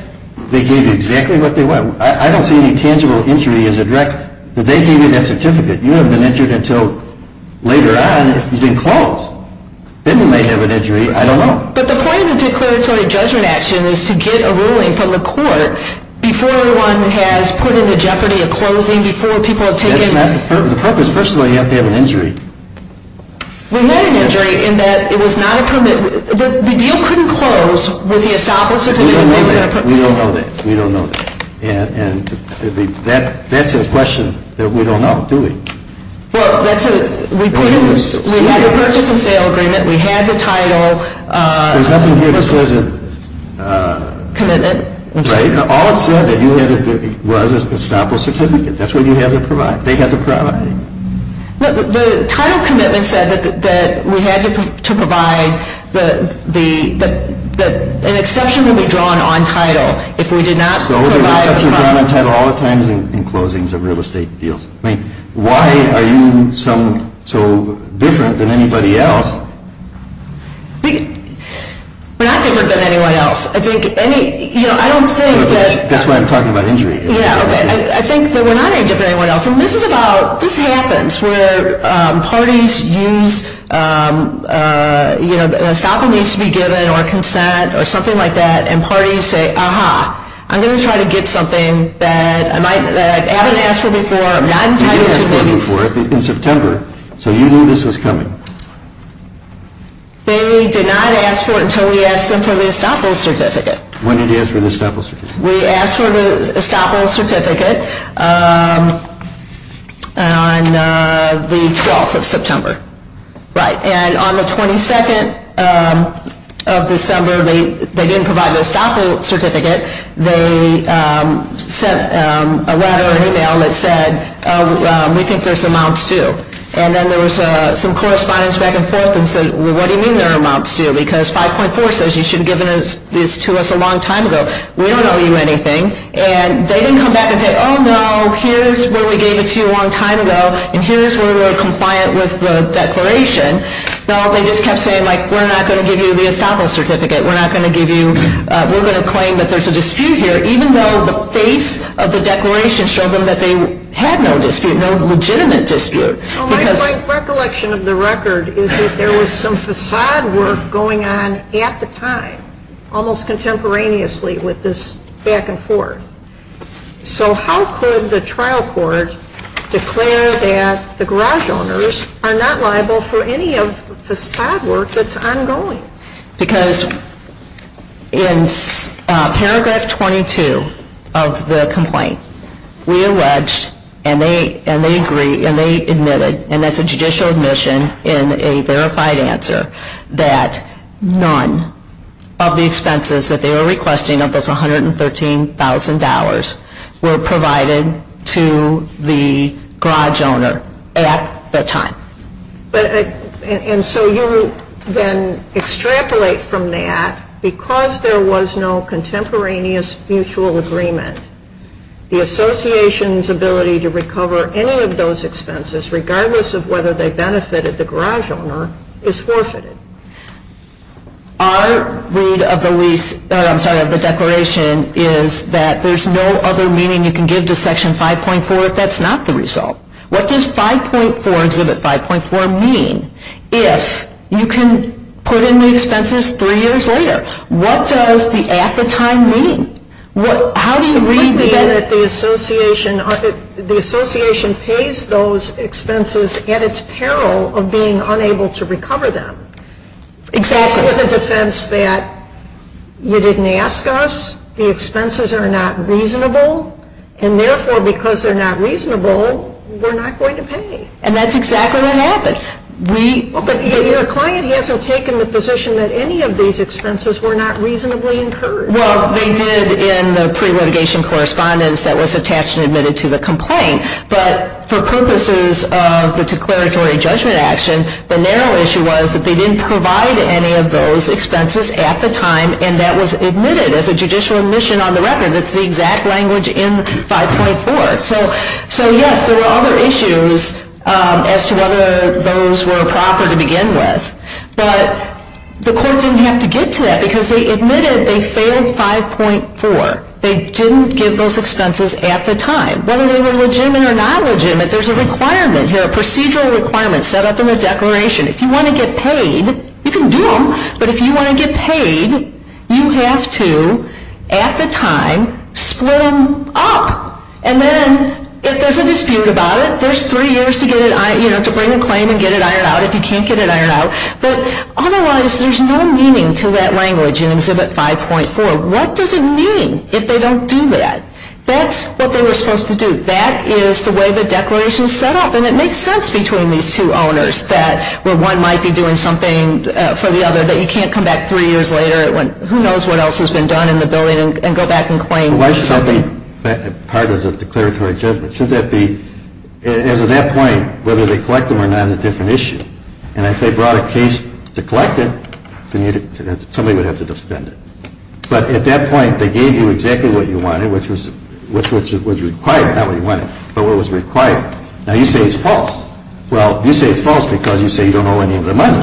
They gave you exactly what they want. I don't see any tangible injury as a direct, but they gave you that certificate. You haven't been injured until later on if you didn't close. Then you may have an injury. I don't know. But the point of the declaratory judgment action is to get a ruling from the court before one has put into jeopardy a closing, before people have taken. That's not the purpose. The purpose, first of all, you have to have an injury. We had an injury in that it was not a permit. The deal couldn't close with the estoppel certificate. We don't know that. We don't know that. We don't know that. And that's a question that we don't know, do we? Well, that's a, we had a purchase and sale agreement. We had the title. There's nothing here that says it. Commitment. Right. All it said that you had was an estoppel certificate. That's what you had to provide. They had to provide it. The title commitment said that we had to provide the, an exception would be drawn on title if we did not provide. So the exception drawn on title all the time is in closings of real estate deals. Right. Why are you so different than anybody else? We're not different than anyone else. I think any, you know, I don't think that. That's why I'm talking about injury. Yeah, okay. I think that we're not any different than anyone else. And this is about, this happens where parties use, you know, estoppel needs to be given or consent or something like that, and parties say, aha, I'm going to try to get something that I might, that I haven't asked for before. You asked for it before in September, so you knew this was coming. They did not ask for it until we asked them for the estoppel certificate. When did you ask for the estoppel certificate? We asked for the estoppel certificate on the 12th of September. Right. And on the 22nd of December, they didn't provide the estoppel certificate. They sent a letter, an email that said, we think there's amounts due. And then there was some correspondence back and forth that said, well, what do you mean there are amounts due? Because 5.4 says you should have given this to us a long time ago. We don't owe you anything. And they didn't come back and say, oh, no, here's where we gave it to you a long time ago, and here's where we're compliant with the declaration. No, they just kept saying, like, we're not going to give you the estoppel certificate. We're not going to give you, we're going to claim that there's a dispute here, even though the face of the declaration showed them that they had no dispute, no legitimate dispute. My recollection of the record is that there was some façade work going on at the time, almost contemporaneously with this back and forth. So how could the trial court declare that the garage owners are not liable for any of the façade work that's ongoing? Because in paragraph 22 of the complaint, we alleged, and they agreed, and they admitted, and that's a judicial admission in a verified answer, that none of the expenses that they were requesting of this $113,000 were provided to the garage owner at the time. And so you then extrapolate from that, because there was no contemporaneous mutual agreement, the association's ability to recover any of those expenses, regardless of whether they benefited the garage owner, is forfeited. Our read of the lease, I'm sorry, of the declaration, is that there's no other meaning you can give to Section 5.4 if that's not the result. What does 5.4, Exhibit 5.4, mean if you can put in the expenses three years later? What does the at-the-time mean? How do you read that? It would mean that the association pays those expenses at its peril of being unable to recover them. Exactly. That's for the defense that you didn't ask us, the expenses are not reasonable, and therefore because they're not reasonable, we're not going to pay. And that's exactly what happened. Your client hasn't taken the position that any of these expenses were not reasonably incurred. Well, they did in the pre-litigation correspondence that was attached and admitted to the complaint, but for purposes of the declaratory judgment action, the narrow issue was that they didn't provide any of those expenses at the time, and that was admitted as a judicial admission on the record. That's the exact language in 5.4. So, yes, there were other issues as to whether those were proper to begin with, but the court didn't have to get to that because they admitted they failed 5.4. They didn't give those expenses at the time. Whether they were legitimate or not legitimate, there's a requirement here, a procedural requirement set up in the declaration. If you want to get paid, you can do them, but if you want to get paid, you have to, at the time, split them up, and then if there's a dispute about it, there's three years to get it, you know, to bring a claim and get it ironed out if you can't get it ironed out. But otherwise, there's no meaning to that language in Exhibit 5.4. What does it mean if they don't do that? That's what they were supposed to do. That is the way the declaration is set up, and it makes sense between these two owners where one might be doing something for the other that you can't come back three years later, who knows what else has been done in the building, and go back and claim something. Why should that be part of the declaratory judgment? Should that be, as of that point, whether they collect them or not is a different issue. And if they brought a case to collect it, somebody would have to defend it. But at that point, they gave you exactly what you wanted, which was required, not what you wanted, but what was required. Now, you say it's false. Well, you say it's false because you say you don't owe any of the money.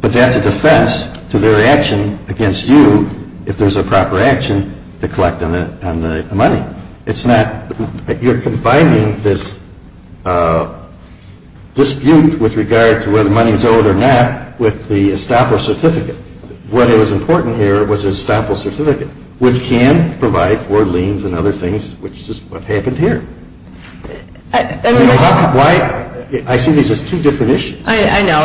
But that's a defense to their action against you if there's a proper action to collect on the money. It's not – you're combining this dispute with regard to whether the money is owed or not with the estoppel certificate. What was important here was the estoppel certificate, which can provide for liens and other things, which is what happened here. I see these as two different issues. I know.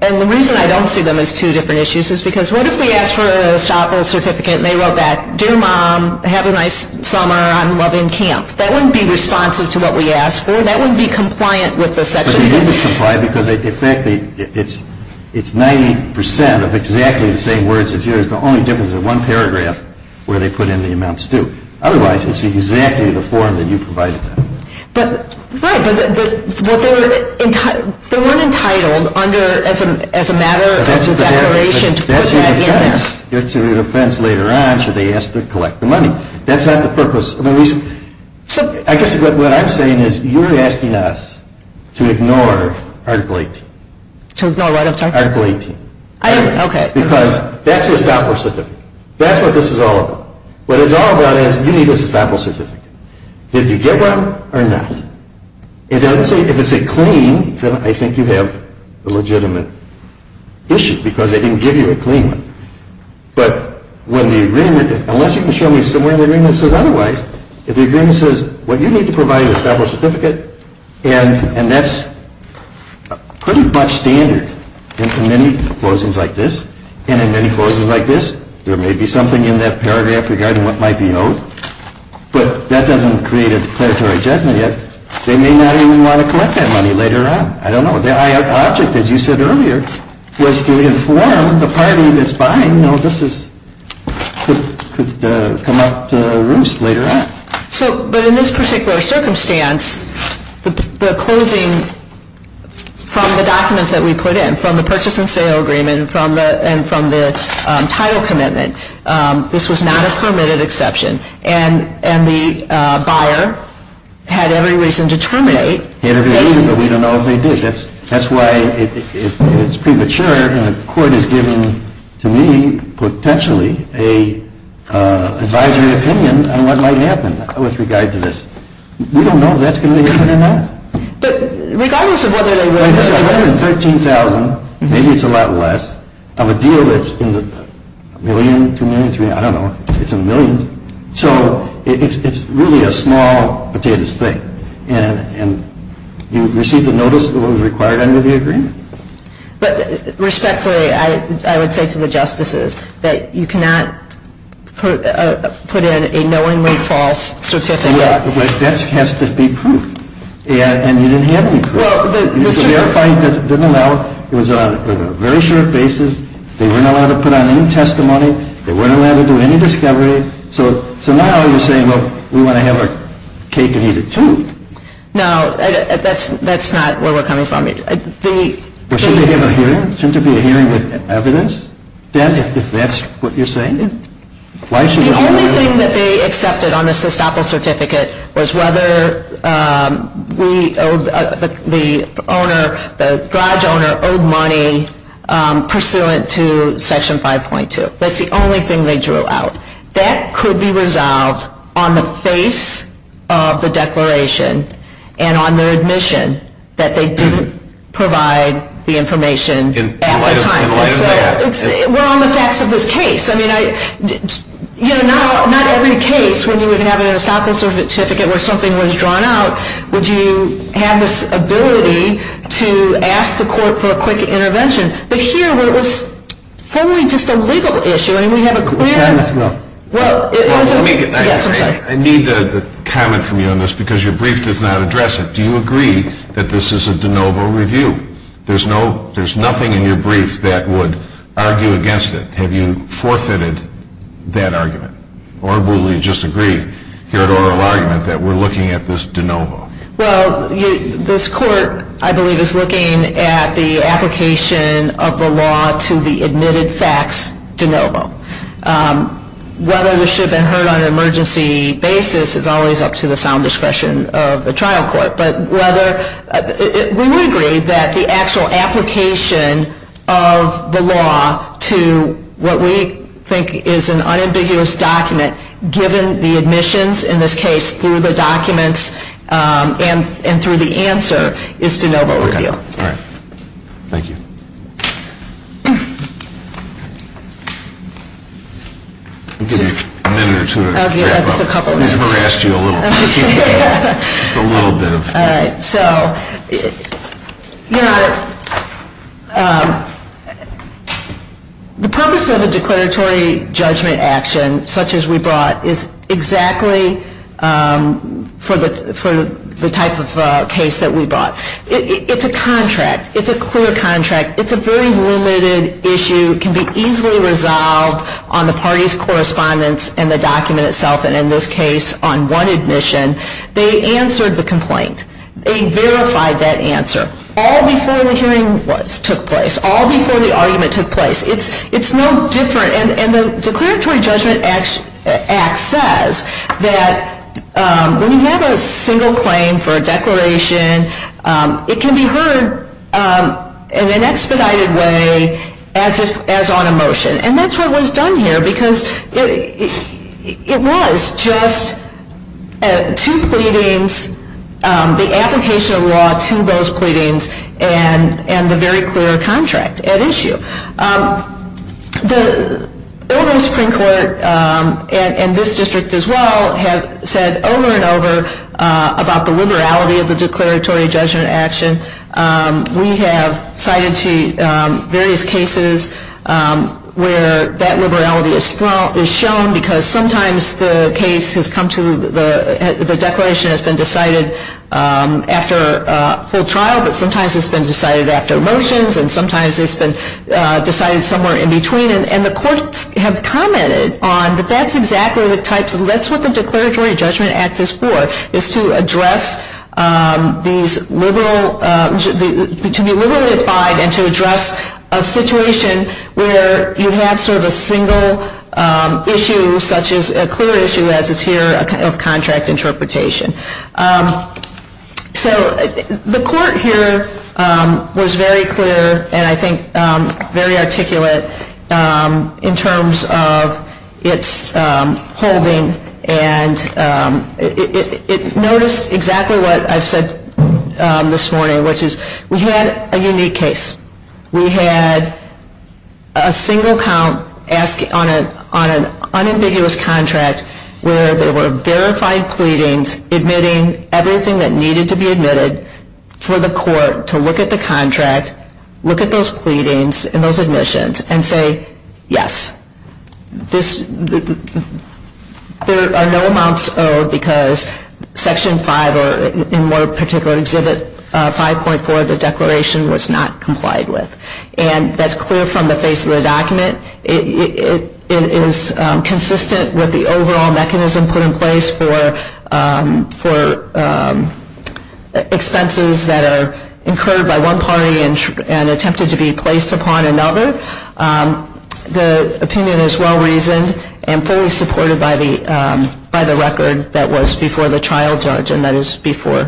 And the reason I don't see them as two different issues is because what if we asked for an estoppel certificate and they wrote that, Dear Mom, have a nice summer. I'm loving camp. That wouldn't be responsive to what we asked for. That wouldn't be compliant with the section. It wouldn't be compliant because, in fact, it's 90 percent of exactly the same words as yours. The only difference is one paragraph where they put in the amounts due. Otherwise, it's exactly the form that you provided them. Right, but they weren't entitled as a matter of declaration to put that in there. That's your defense. It's your defense later on should they ask to collect the money. That's not the purpose. I guess what I'm saying is you're asking us to ignore Article 18. To ignore what? Article 18. Okay. Because that's the estoppel certificate. That's what this is all about. What it's all about is you need an estoppel certificate. Did you get one or not? If it's a clean, then I think you have a legitimate issue because they didn't give you a clean one. But when the agreement, unless you can show me somewhere in the agreement that says otherwise, if the agreement says what you need to provide is an estoppel certificate, and that's pretty much standard in many closings like this, and in many closings like this, there may be something in that paragraph regarding what might be owed, but that doesn't create a declaratory judgment yet. They may not even want to collect that money later on. I don't know. The object, as you said earlier, was to inform the party that's buying, you know, this could come up to roost later on. But in this particular circumstance, the closing from the documents that we put in, from the purchase and sale agreement and from the title commitment, this was not a permitted exception. And the buyer had every reason to terminate. He had every reason, but we don't know if they did. That's why it's premature, and the court is giving to me, potentially, an advisory opinion on what might happen with regard to this. We don't know if that's going to happen or not. But regardless of whether they were... It's $113,000, maybe it's a lot less, of a deal that's in the million, two million, three million, I don't know. It's in the millions. So it's really a small potatoes thing, and you receive the notice of what was required under the agreement. But respectfully, I would say to the justices that you cannot put in a knowingly false certificate. That has to be proof, and you didn't have any proof. It was a very short basis. They weren't allowed to put on any testimony. They weren't allowed to do any discovery. So now you're saying, well, we want to have our cake and eat it too. No, that's not where we're coming from. Shouldn't there be a hearing with evidence, then, if that's what you're saying? The only thing that they accepted on the SESTOPL certificate was whether the garage owner owed money pursuant to Section 5.2. That's the only thing they drew out. That could be resolved on the face of the declaration and on their admission that they didn't provide the information at the time. We're on the facts of this case. I mean, not every case, when you have an SESTOPL certificate where something was drawn out, would you have this ability to ask the court for a quick intervention. But here, where it was formally just a legal issue, I mean, we have a clear- Let's end this, Will. Yes, I'm sorry. I need to comment from you on this, because your brief does not address it. Do you agree that this is a de novo review? There's nothing in your brief that would argue against it. Have you forfeited that argument? Or will you just agree here at oral argument that we're looking at this de novo? Well, this court, I believe, is looking at the application of the law to the admitted facts de novo. Whether this should have been heard on an emergency basis is always up to the sound discretion of the trial court. But whether-we would agree that the actual application of the law to what we think is an unambiguous document, given the admissions in this case, through the documents and through the answer, is de novo review. Okay. All right. Thank you. I'll give you a minute or two to- I'll give us a couple minutes. I'm going to harass you a little. Just a little bit of- All right. So the purpose of a declaratory judgment action such as we brought is exactly for the type of case that we brought. It's a contract. It's a clear contract. It's a very limited issue. It can be easily resolved on the party's correspondence and the document itself. And in this case, on one admission, they answered the complaint. They verified that answer. All before the hearing took place. All before the argument took place. It's no different-and the declaratory judgment act says that when you have a single claim for a declaration, it can be heard in an expedited way as on a motion. And that's what was done here, because it was just two pleadings, the application of law to those pleadings, and the very clear contract at issue. The Illinois Supreme Court and this district as well have said over and over about the liberality of the declaratory judgment action. We have cited to various cases where that liberality is shown, because sometimes the case has come to the-the declaration has been decided after a full trial, but sometimes it's been decided after motions, and sometimes it's been decided somewhere in between. And the courts have commented on that that's exactly the types of-that's what the declaratory judgment act is for, is to address these liberal-to be liberally applied and to address a situation where you have sort of a single issue, such as a clear issue as is here of contract interpretation. So the court here was very clear and I think very articulate in terms of its holding, and it noticed exactly what I've said this morning, which is we had a unique case. We had a single count on an unambiguous contract where there were verified pleadings. We were admitting everything that needed to be admitted for the court to look at the contract, look at those pleadings and those admissions, and say, yes. This-there are no amounts owed because Section 5 or in more particular Exhibit 5.4 of the declaration was not complied with. And that's clear from the face of the document. It is consistent with the overall mechanism put in place for expenses that are incurred by one party and attempted to be placed upon another. The opinion is well reasoned and fully supported by the record that was before the trial judge and that is before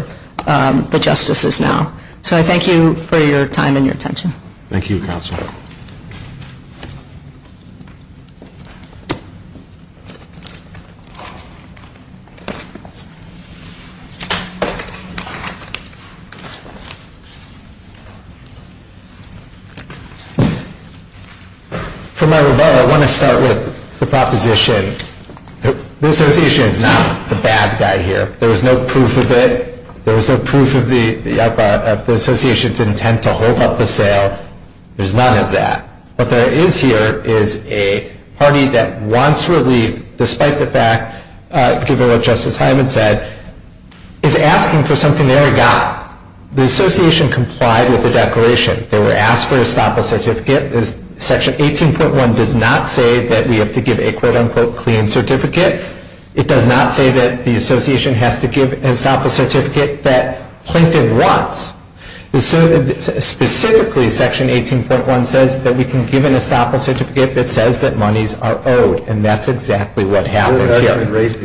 the justices now. So I thank you for your time and your attention. Thank you, Counsel. For my rebuttal, I want to start with the proposition that the Association is not the bad guy here. There was no proof of it. There was no proof of the Association's intent to hold up the sale. There's none of that. What there is here is a party that wants relief despite the fact, given what Justice Hyman said, is asking for something they already got. The Association complied with the declaration. They were asked for a stop-loss certificate. Section 18.1 does not say that we have to give a quote-unquote clean certificate. It does not say that the Association has to give a stop-loss certificate that plaintiff wants. Specifically, Section 18.1 says that we can give a stop-loss certificate that says that monies are owed. And that's exactly what happened here. I believe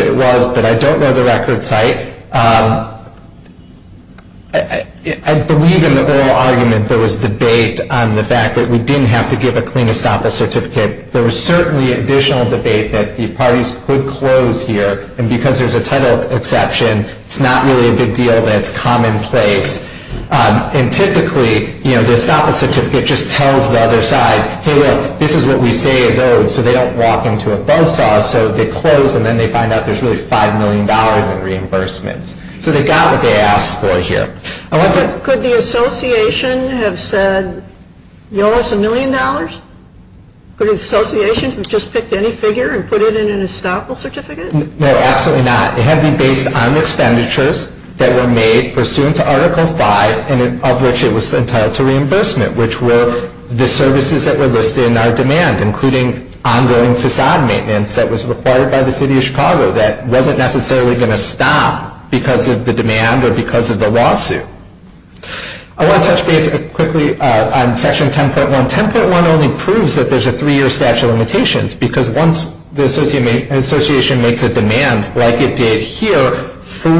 it was, but I don't know the record site. I believe in the oral argument there was debate on the fact that we didn't have to give a clean stop-loss certificate. There was certainly additional debate that the parties could close here. And because there's a title exception, it's not really a big deal. That's commonplace. And typically, the stop-loss certificate just tells the other side, hey look, this is what we say is owed. So they don't walk into a buzz saw. So they close and then they find out there's really $5 million in reimbursements. So they got what they asked for here. Could the Association have said, you owe us a million dollars? Could the Association have just picked any figure and put it in a stop-loss certificate? No, absolutely not. It had to be based on expenditures that were made pursuant to Article V, and of which it was entitled to reimbursement, which were the services that were listed in our demand, including ongoing facade maintenance that was required by the City of Chicago that wasn't necessarily going to stop because of the demand or because of the lawsuit. I want to touch base quickly on Section 10.1. Section 10.1 only proves that there's a three-year statute of limitations because once the Association makes a demand like it did here for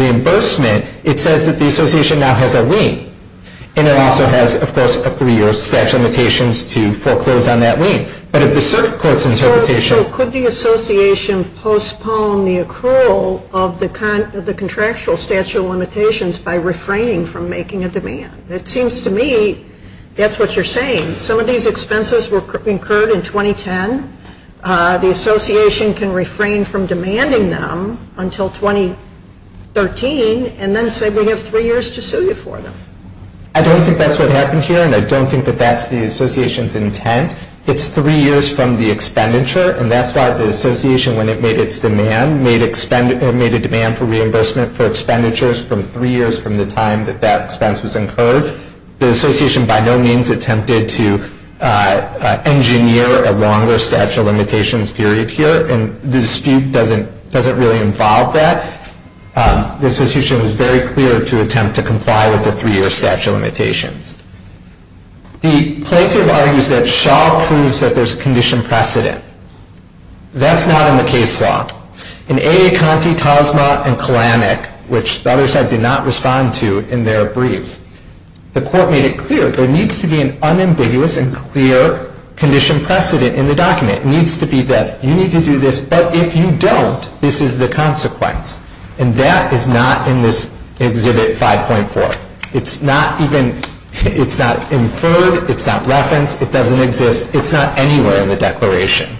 reimbursement, it says that the Association now has a lien. And it also has, of course, a three-year statute of limitations to foreclose on that lien. But if the circuit court's interpretation... So could the Association postpone the accrual of the contractual statute of limitations by refraining from making a demand? It seems to me that's what you're saying. Some of these expenses were incurred in 2010. The Association can refrain from demanding them until 2013 and then say we have three years to sue you for them. I don't think that's what happened here, and I don't think that that's the Association's intent. It's three years from the expenditure, and that's why the Association, when it made its demand, made a demand for reimbursement for expenditures from three years from the time that that expense was incurred. The Association by no means attempted to engineer a longer statute of limitations period here, and the dispute doesn't really involve that. The Association was very clear to attempt to comply with the three-year statute of limitations. The plaintiff argues that Shaw proves that there's condition precedent. That's not in the case law. In A. A. Conti, Tosma, and Kalanick, which the other side did not respond to in their briefs, the court made it clear there needs to be an unambiguous and clear condition precedent in the document. It needs to be that you need to do this, but if you don't, this is the consequence. And that is not in this Exhibit 5.4. It's not even, it's not inferred, it's not referenced, it doesn't exist. It's not anywhere in the declaration.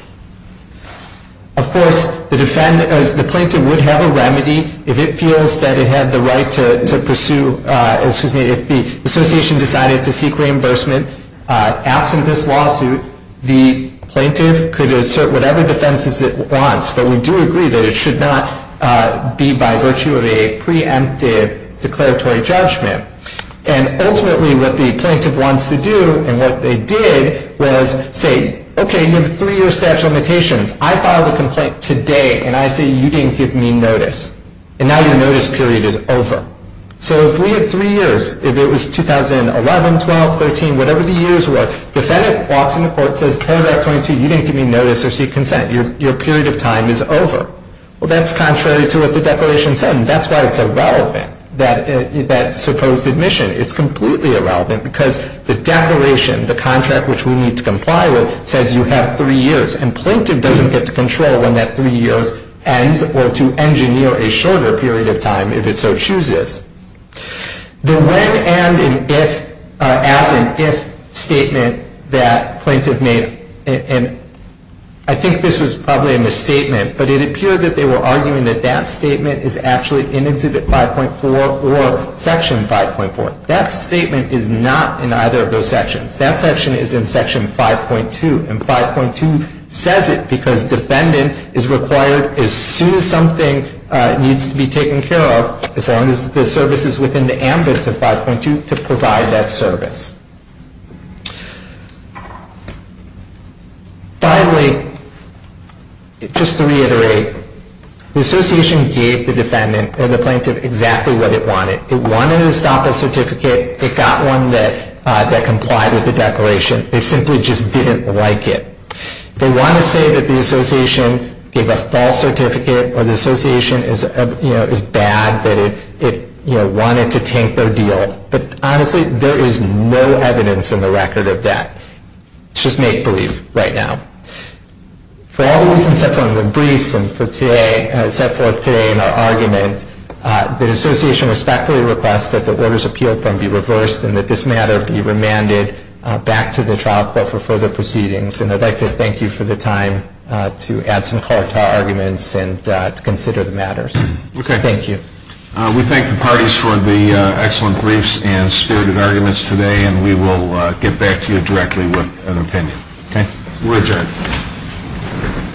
Of course, the plaintiff would have a remedy if it feels that it had the right to pursue, excuse me, if the Association decided to seek reimbursement. Absent this lawsuit, the plaintiff could assert whatever defenses it wants, but we do agree that it should not be by virtue of a preemptive declaratory judgment. And ultimately, what the plaintiff wants to do and what they did was say, okay, you have a three-year statute of limitations. I filed a complaint today, and I say you didn't give me notice. And now your notice period is over. So if we had three years, if it was 2011, 12, 13, whatever the years were, the defendant walks into court and says, paragraph 22, you didn't give me notice or seek consent. Your period of time is over. Well, that's contrary to what the declaration said, and that's why it's irrelevant, that supposed admission. It's completely irrelevant because the declaration, the contract which we need to comply with, says you have three years, and plaintiff doesn't get to control when that three years ends or to engineer a shorter period of time if it so chooses. The when, and, and if, as in if statement that plaintiff made, and I think this was probably a misstatement, but it appeared that they were arguing that that statement is actually in Exhibit 5.4 or Section 5.4. That statement is not in either of those sections. That section is in Section 5.2, and 5.2 says it because defendant is required, as soon as something needs to be taken care of, as long as the service is within the ambit of 5.2, to provide that service. Finally, just to reiterate, the association gave the defendant, or the plaintiff, exactly what it wanted. It wanted to stop a certificate. It got one that complied with the declaration. They simply just didn't like it. They want to say that the association gave a false certificate, or the association is bad, that it wanted to tank their deal. But honestly, there is no evidence in the record of that. It's just make-believe right now. For all the reasons set forth in the briefs and set forth today in our argument, the association respectfully requests that the orders appealed from be reversed and that this matter be remanded back to the trial court for further proceedings. And I'd like to thank you for the time to add some color to our arguments and to consider the matters. Thank you. We thank the parties for the excellent briefs and spirited arguments today, and we will get back to you directly with an opinion. We're adjourned.